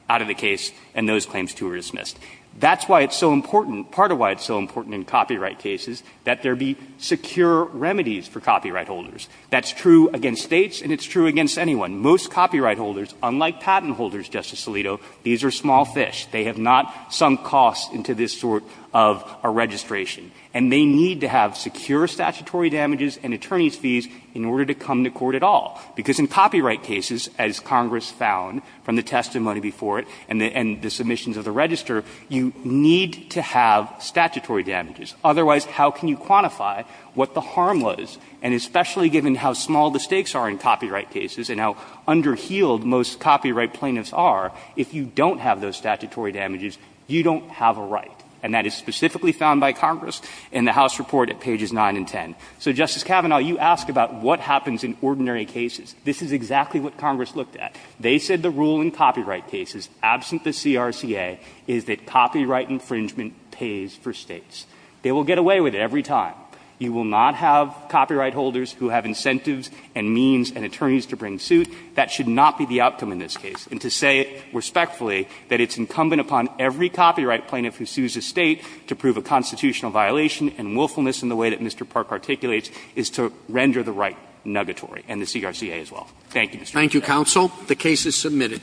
out of the case, and those claims, too, are dismissed. That's why it's so important, part of why it's so important in copyright cases, that there be secure remedies for copyright holders. That's true against States, and it's true against anyone. Most copyright holders, unlike patent holders, Justice Alito, these are small fish. They have not sunk costs into this sort of a registration. And they need to have secure statutory damages and attorneys' fees in order to come to court at all, because in copyright cases, as Congress found from the testimony before it and the submissions of the register, you need to have statutory damages. Otherwise, how can you quantify what the harm was, and especially given how small the stakes are in copyright cases and how under-heeled most copyright plaintiffs are, if you don't have those statutory damages, you don't have a right. And that is specifically found by Congress in the House Report at pages 9 and 10. So, Justice Kavanaugh, you ask about what happens in ordinary cases. This is exactly what Congress looked at. They said the rule in copyright cases, absent the CRCA, is that copyright infringement pays for States. They will get away with it every time. You will not have copyright holders who have incentives and means and attorneys to bring suit. That should not be the outcome in this case. And to say respectfully that it's incumbent upon every copyright plaintiff who sues a State to prove a constitutional violation and willfulness in the way that Mr. Park articulates is to render the right nuggatory, and the CRCA as well. Thank you, Mr. Roberts. Roberts. The case is submitted.